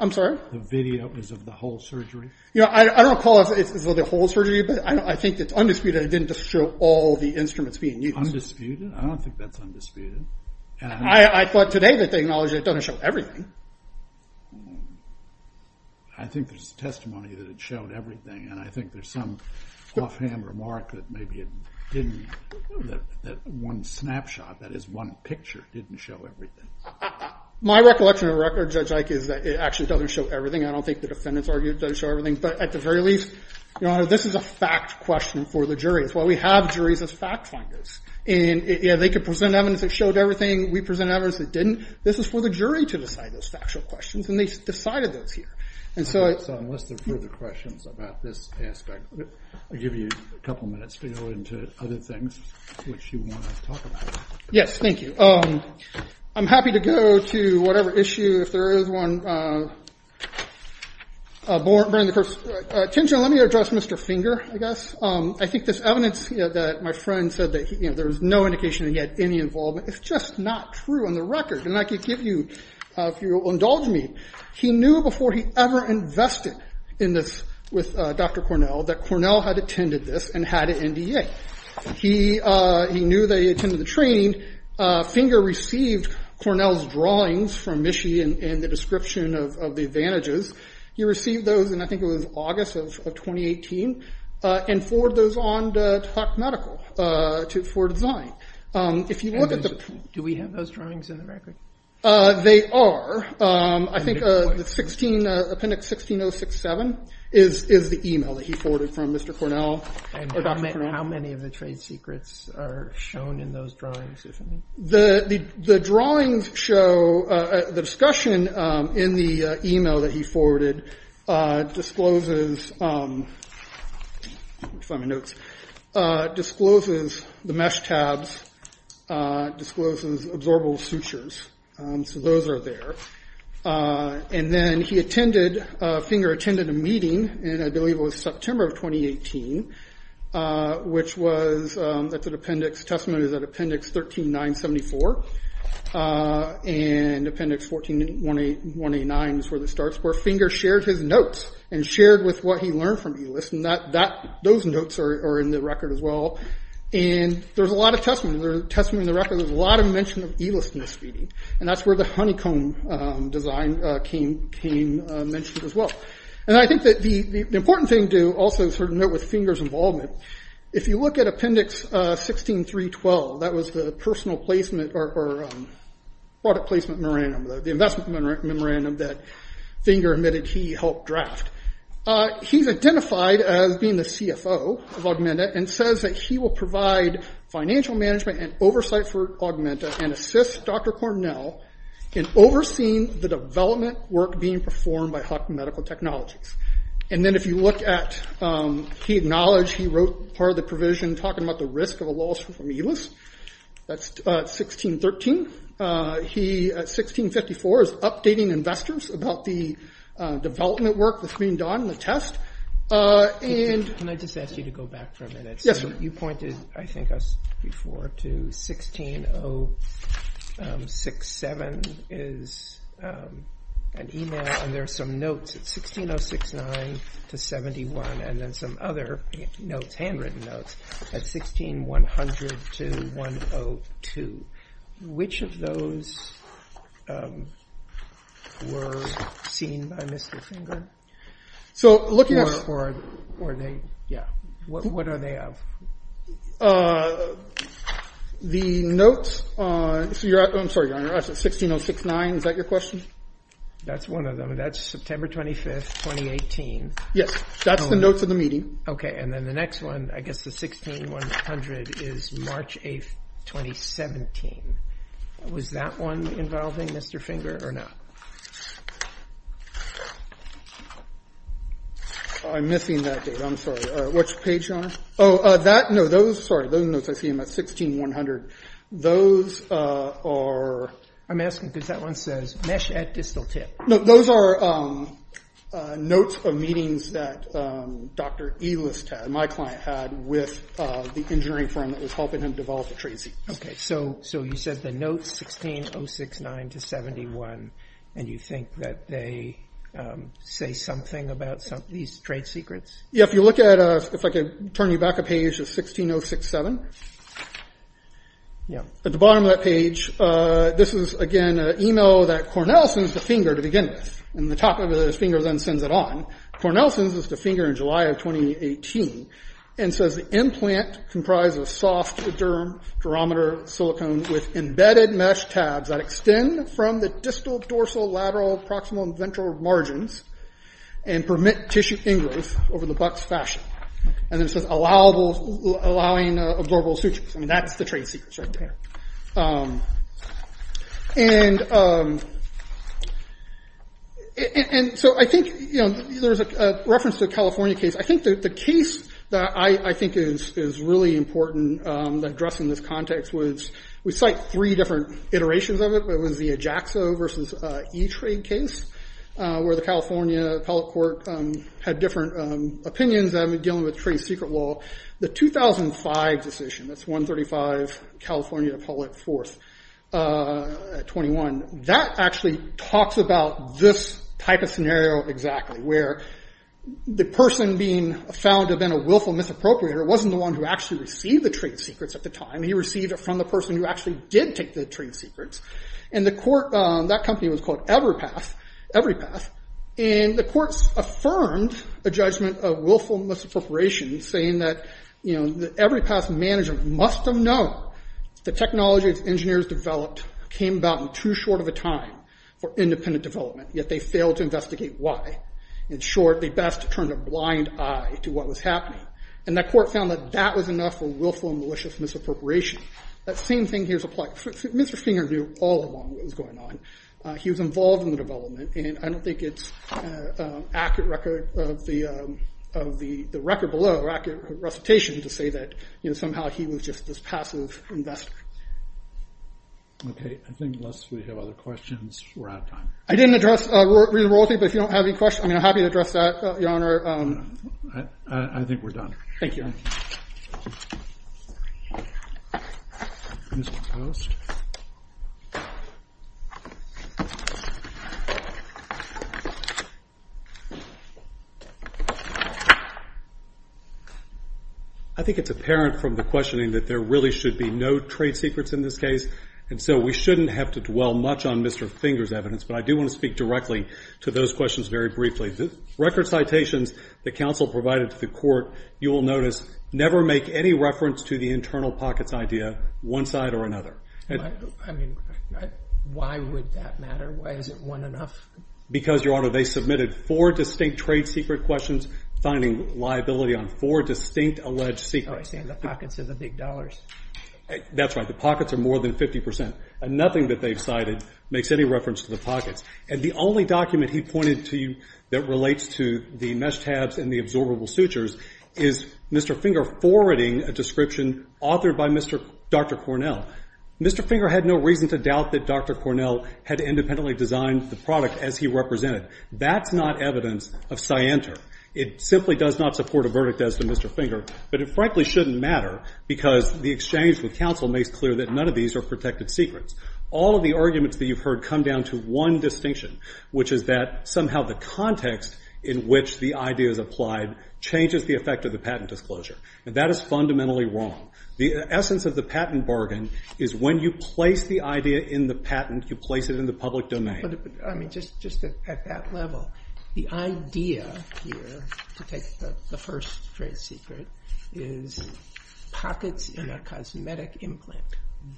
I'm sorry? The video is of the whole surgery? You know, I don't call it the whole surgery, but I think it's undisputed it didn't just show all the instruments being used. Undisputed? I don't think that's undisputed. I thought today that they acknowledged that it doesn't show everything. I think there's testimony that it showed everything. And I think there's some offhand remark that maybe it didn't, that one snapshot, that is one picture, didn't show everything. My recollection of the record, Judge Ike, is that it actually doesn't show everything. I don't think the defendants argued it doesn't show everything. But at the very least, Your Honor, this is a fact question for the jury. That's why we have juries as fact finders. They could present evidence that showed everything. We presented evidence that didn't. This is for the jury to decide those factual questions, and they decided those here. So unless there are further questions about this aspect, I'll give you a couple minutes to go into other things which you want to talk about. Yes, thank you. I'm happy to go to whatever issue, if there is one. Attention, let me address Mr. Finger, I guess. I think this evidence that my friend said that there was no indication that he had any involvement, it's just not true on the record. And I can give you, if you'll indulge me, he knew before he ever invested in this with Dr. Cornell, that Cornell had attended this and had an NDA. He knew that he attended the training. Finger received Cornell's drawings from Michie and the description of the advantages. He received those in, I think it was August of 2018, and forwarded those on to Clark Medical for design. Do we have those drawings in the record? They are. I think Appendix 16067 is the email that he forwarded from Mr. Cornell or Dr. Cornell. How many of the trade secrets are shown in those drawings, if any? The drawings show, the discussion in the email that he forwarded discloses, let me find my notes, discloses the mesh tabs, discloses absorbable sutures. So those are there. And then he attended, Finger attended a meeting, and I believe it was September of 2018, which was, that's an appendix, testament is at Appendix 13974. And Appendix 14189 is where this starts, where Finger shared his notes and shared with what he learned from Elist, and those notes are in the record as well. And there's a lot of testament, there's a testament in the record, there's a lot of mention of Elist in this meeting. And that's where the honeycomb design came mentioned as well. And I think that the important thing to also note with Finger's involvement, if you look at Appendix 16312, that was the personal placement or product placement memorandum, the investment memorandum that Finger admitted he helped draft. He's identified as being the CFO of Augmenta and says that he will provide financial management and oversight for Augmenta and assist Dr. Cornell in overseeing the development work being performed by Hopkins Medical Technologies. And then if you look at, he acknowledged, he wrote part of the provision talking about the risk of a loss from Elist. That's 1613. He, at 1654, is updating investors about the development work that's being done, the test. And... Can I just ask you to go back for a minute? Yes, sir. You pointed, I think, us before to 16067 is an email, and there are some notes at 16069 to 71, and then some other notes, handwritten notes, at 16100 to 102. Which of those were seen by Mr. Finger? So looking at... Or are they, yeah. What are they of? The notes on, I'm sorry, Your Honor, 16069, is that your question? That's one of them. That's September 25th, 2018. Yes, that's the notes of the meeting. Okay, and then the next one, I guess the 16100 is March 8th, 2017. Was that one involving Mr. Finger or not? I'm missing that date, I'm sorry. Which page, Your Honor? Oh, that, no, those, sorry, those notes, I see them at 16100. Those are... I'm asking because that one says mesh at distal tip. No, those are notes of meetings that Dr. Elist, my client, had with the engineering firm that was helping him develop the trade secrets. Okay, so you said the notes, 16069 to 71, and you think that they say something about these trade secrets? Yeah, if you look at, if I could turn you back a page to 16067. At the bottom of that page, this is, again, an email that Cornell sends to Finger to begin with, and the top of it is Finger then sends it on. Cornell sends this to Finger in July of 2018, and says the implant comprises soft durometer silicone with embedded mesh tabs that extend from the distal, dorsal, lateral, proximal, and ventral margins and permit tissue ingrowth over the buck's fashion. And then it says allowing absorbable sutures. I mean, that's the trade secrets right there. And so I think, you know, there's a reference to a California case. I think that the case that I think is really important to address in this context was we cite three different iterations of it, but it was the Ajaxo versus E-Trade case, where the California appellate court had different opinions dealing with trade secret law. The 2005 decision, that's 135 California Appellate 4th at 21, that actually talks about this type of scenario exactly, where the person being found to have been a willful misappropriator wasn't the one who actually received the trade secrets at the time. He received it from the person who actually did take the trade secrets, and that company was called Everypath. And the courts affirmed a judgment of willful misappropriation saying that Everypath's management must have known the technology its engineers developed came about in too short of a time for independent development, yet they failed to investigate why. In short, they best turned a blind eye to what was happening. And that court found that that was enough for willful and malicious misappropriation. That same thing here is applied. Mr. Finger knew all along what was going on. He was involved in the development, and I don't think it's an accurate record of the record below, or accurate recitation to say that somehow he was just this passive investor. Okay, I think unless we have other questions, we're out of time. I didn't address re-enrollty, but if you don't have any questions, I'm happy to address that, Your Honor. I think we're done. Thank you. Mr. Post. I think it's apparent from the questioning that there really should be no trade secrets in this case, and so we shouldn't have to dwell much on Mr. Finger's evidence, but I do want to speak directly to those questions very briefly. The record citations that counsel provided to the court, you will notice never make any reference to the internal pockets idea, one side or another. I mean, why would that matter? Why isn't one enough? Because, Your Honor, they submitted four distinct trade secret questions, finding liability on four distinct alleged secrets. Oh, I see. And the pockets are the big dollars. That's right. The pockets are more than 50%, and nothing that they've cited makes any reference to the pockets. And the only document he pointed to that relates to the mesh tabs and the absorbable sutures is Mr. Finger forwarding a description authored by Dr. Cornell. Mr. Finger had no reason to doubt that Dr. Cornell had independently designed the product as he represented. That's not evidence of scienter. It simply does not support a verdict as to Mr. Finger, but it frankly shouldn't matter because the exchange with counsel makes clear that none of these are protected secrets. All of the arguments that you've heard come down to one distinction, which is that somehow the context in which the idea is applied changes the effect of the patent disclosure. And that is fundamentally wrong. The essence of the patent bargain is when you place the idea in the patent, you place it in the public domain. But, I mean, just at that level, the idea here to take the first trade secret is pockets in a cosmetic implant.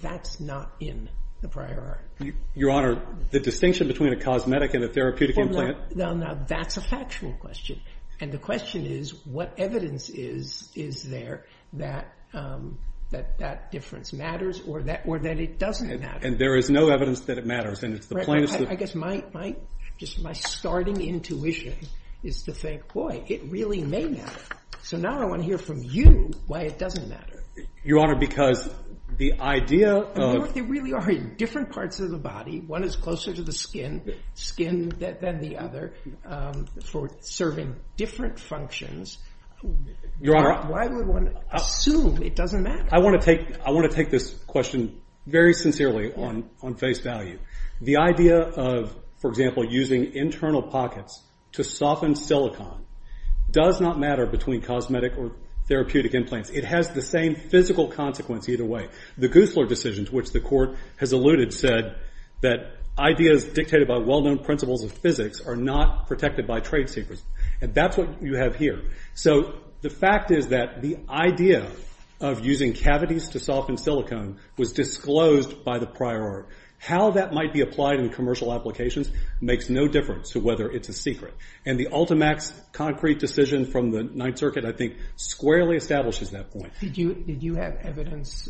That's not in the prior art. Your Honor, the distinction between a cosmetic and a therapeutic implant... Well, now that's a factual question. And the question is what evidence is there that that difference matters or that it doesn't matter. And there is no evidence that it matters. I guess my starting intuition is to think, boy, it really may matter. So now I want to hear from you why it doesn't matter. Your Honor, because the idea of... There really are different parts of the body. One is closer to the skin than the other for serving different functions. Your Honor... Why would one assume it doesn't matter? I want to take this question very sincerely on face value. The idea of, for example, using internal pockets to soften silicon does not matter between cosmetic or therapeutic implants. It has the same physical consequence either way. The Goosler decision, to which the Court has alluded, said that ideas dictated by well-known principles of physics are not protected by trade secrets. And that's what you have here. So the fact is that the idea of using cavities to soften silicon was disclosed by the prior art. How that might be applied in commercial applications makes no difference to whether it's a secret. And the Ultimax concrete decision from the Ninth Circuit, I think, squarely establishes that point. Did you have evidence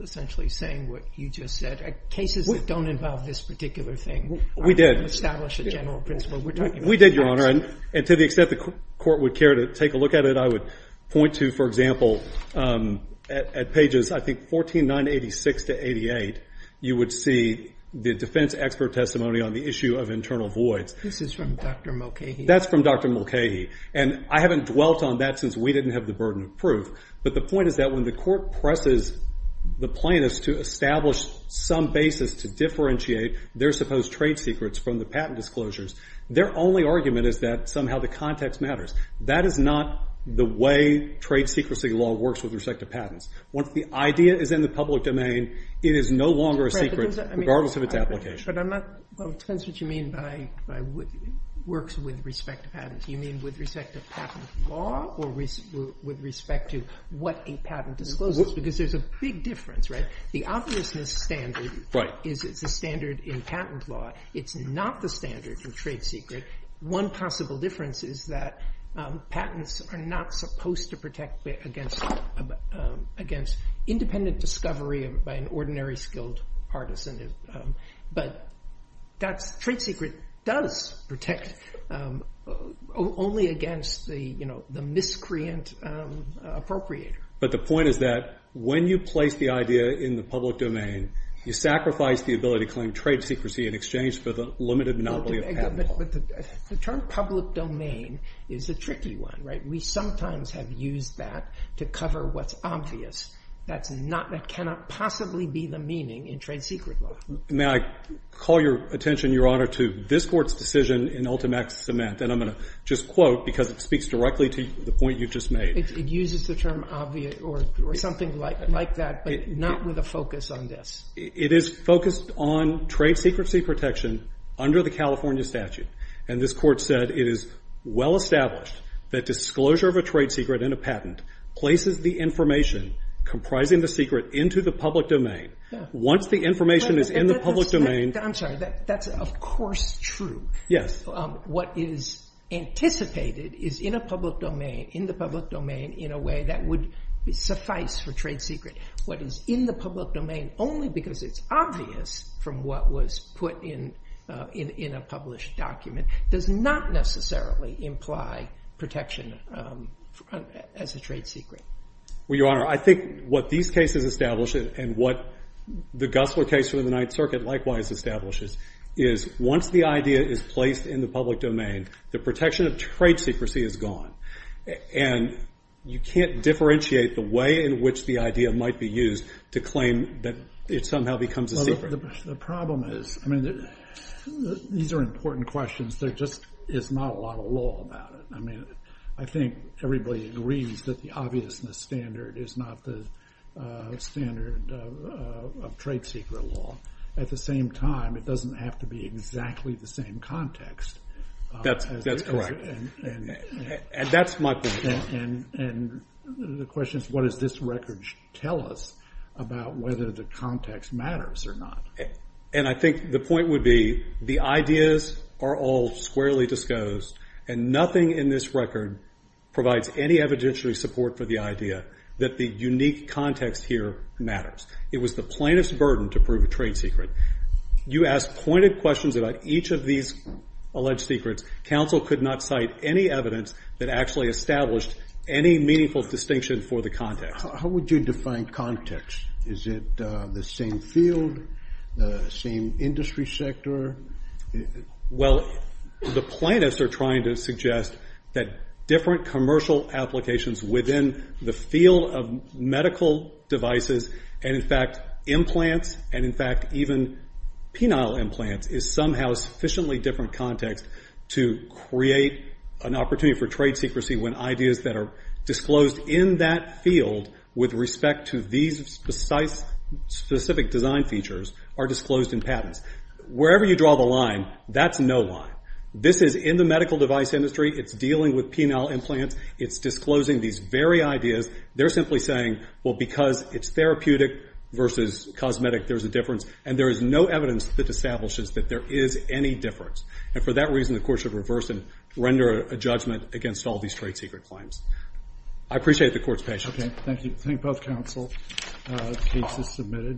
essentially saying what you just said? Cases that don't involve this particular thing. We did. Establish a general principle. We did, Your Honor. And to the extent the Court would care to take a look at it, I would point to, for example, at pages, I think, 14, 986 to 88, you would see the defense expert testimony on the issue of internal voids. This is from Dr. Mulcahy. That's from Dr. Mulcahy. And I haven't dwelt on that since we didn't have the burden of proof. But the point is that when the Court presses the plaintiffs to establish some basis to differentiate their supposed trade secrets from the patent disclosures, their only argument is that somehow the context matters. That is not the way trade secrecy law works with respect to patents. Once the idea is in the public domain, it is no longer a secret regardless of its application. But I'm not – well, it depends what you mean by works with respect to patents. Do you mean with respect to patent law or with respect to what a patent discloses? Because there's a big difference, right? The obviousness standard is it's a standard in patent law. It's not the standard in trade secret. One possible difference is that patents are not supposed to protect against independent discovery by an ordinary skilled partisan. But trade secret does protect only against the miscreant appropriator. But the point is that when you place the idea in the public domain, you sacrifice the ability to claim trade secrecy in exchange for the limited monopoly of patent law. The term public domain is a tricky one, right? We sometimes have used that to cover what's obvious. That's not – that cannot possibly be the meaning in trade secret law. May I call your attention, Your Honor, to this Court's decision in Ultimax Cement? And I'm going to just quote because it speaks directly to the point you just made. It uses the term obvious or something like that, but not with a focus on this. It is focused on trade secrecy protection under the California statute. And this Court said it is well established that disclosure of a trade secret in a patent places the information comprising the secret into the public domain. Once the information is in the public domain— I'm sorry, that's of course true. Yes. What is anticipated is in a public domain, in the public domain, in a way that would suffice for trade secret. What is in the public domain, only because it's obvious from what was put in a published document, does not necessarily imply protection as a trade secret. Well, Your Honor, I think what these cases establish and what the Gussler case from the Ninth Circuit likewise establishes is once the idea is placed in the public domain, the protection of trade secrecy is gone. And you can't differentiate the way in which the idea might be used to claim that it somehow becomes a secret. The problem is, I mean, these are important questions. There just is not a lot of law about it. I mean, I think everybody agrees that the obviousness standard is not the standard of trade secret law. At the same time, it doesn't have to be exactly the same context. That's correct. And that's my point. And the question is, what does this record tell us about whether the context matters or not? And I think the point would be the ideas are all squarely disclosed, and nothing in this record provides any evidentiary support for the idea that the unique context here matters. It was the plainest burden to prove a trade secret. You ask pointed questions about each of these alleged secrets. Counsel could not cite any evidence that actually established any meaningful distinction for the context. How would you define context? Is it the same field, the same industry sector? Well, the plaintiffs are trying to suggest that different commercial applications within the field of medical devices and, in fact, implants, and, in fact, even penile implants is somehow a sufficiently different context to create an opportunity for trade secrecy when ideas that are disclosed in that field with respect to these specific design features are disclosed in patents. Wherever you draw the line, that's no line. This is in the medical device industry. It's dealing with penile implants. It's disclosing these very ideas. They're simply saying, well, because it's therapeutic versus cosmetic, there's a difference, and there is no evidence that establishes that there is any difference. And for that reason, the court should reverse and render a judgment against all these trade secret claims. I appreciate the court's patience. Okay, thank you. Thank both counsel. The case is submitted.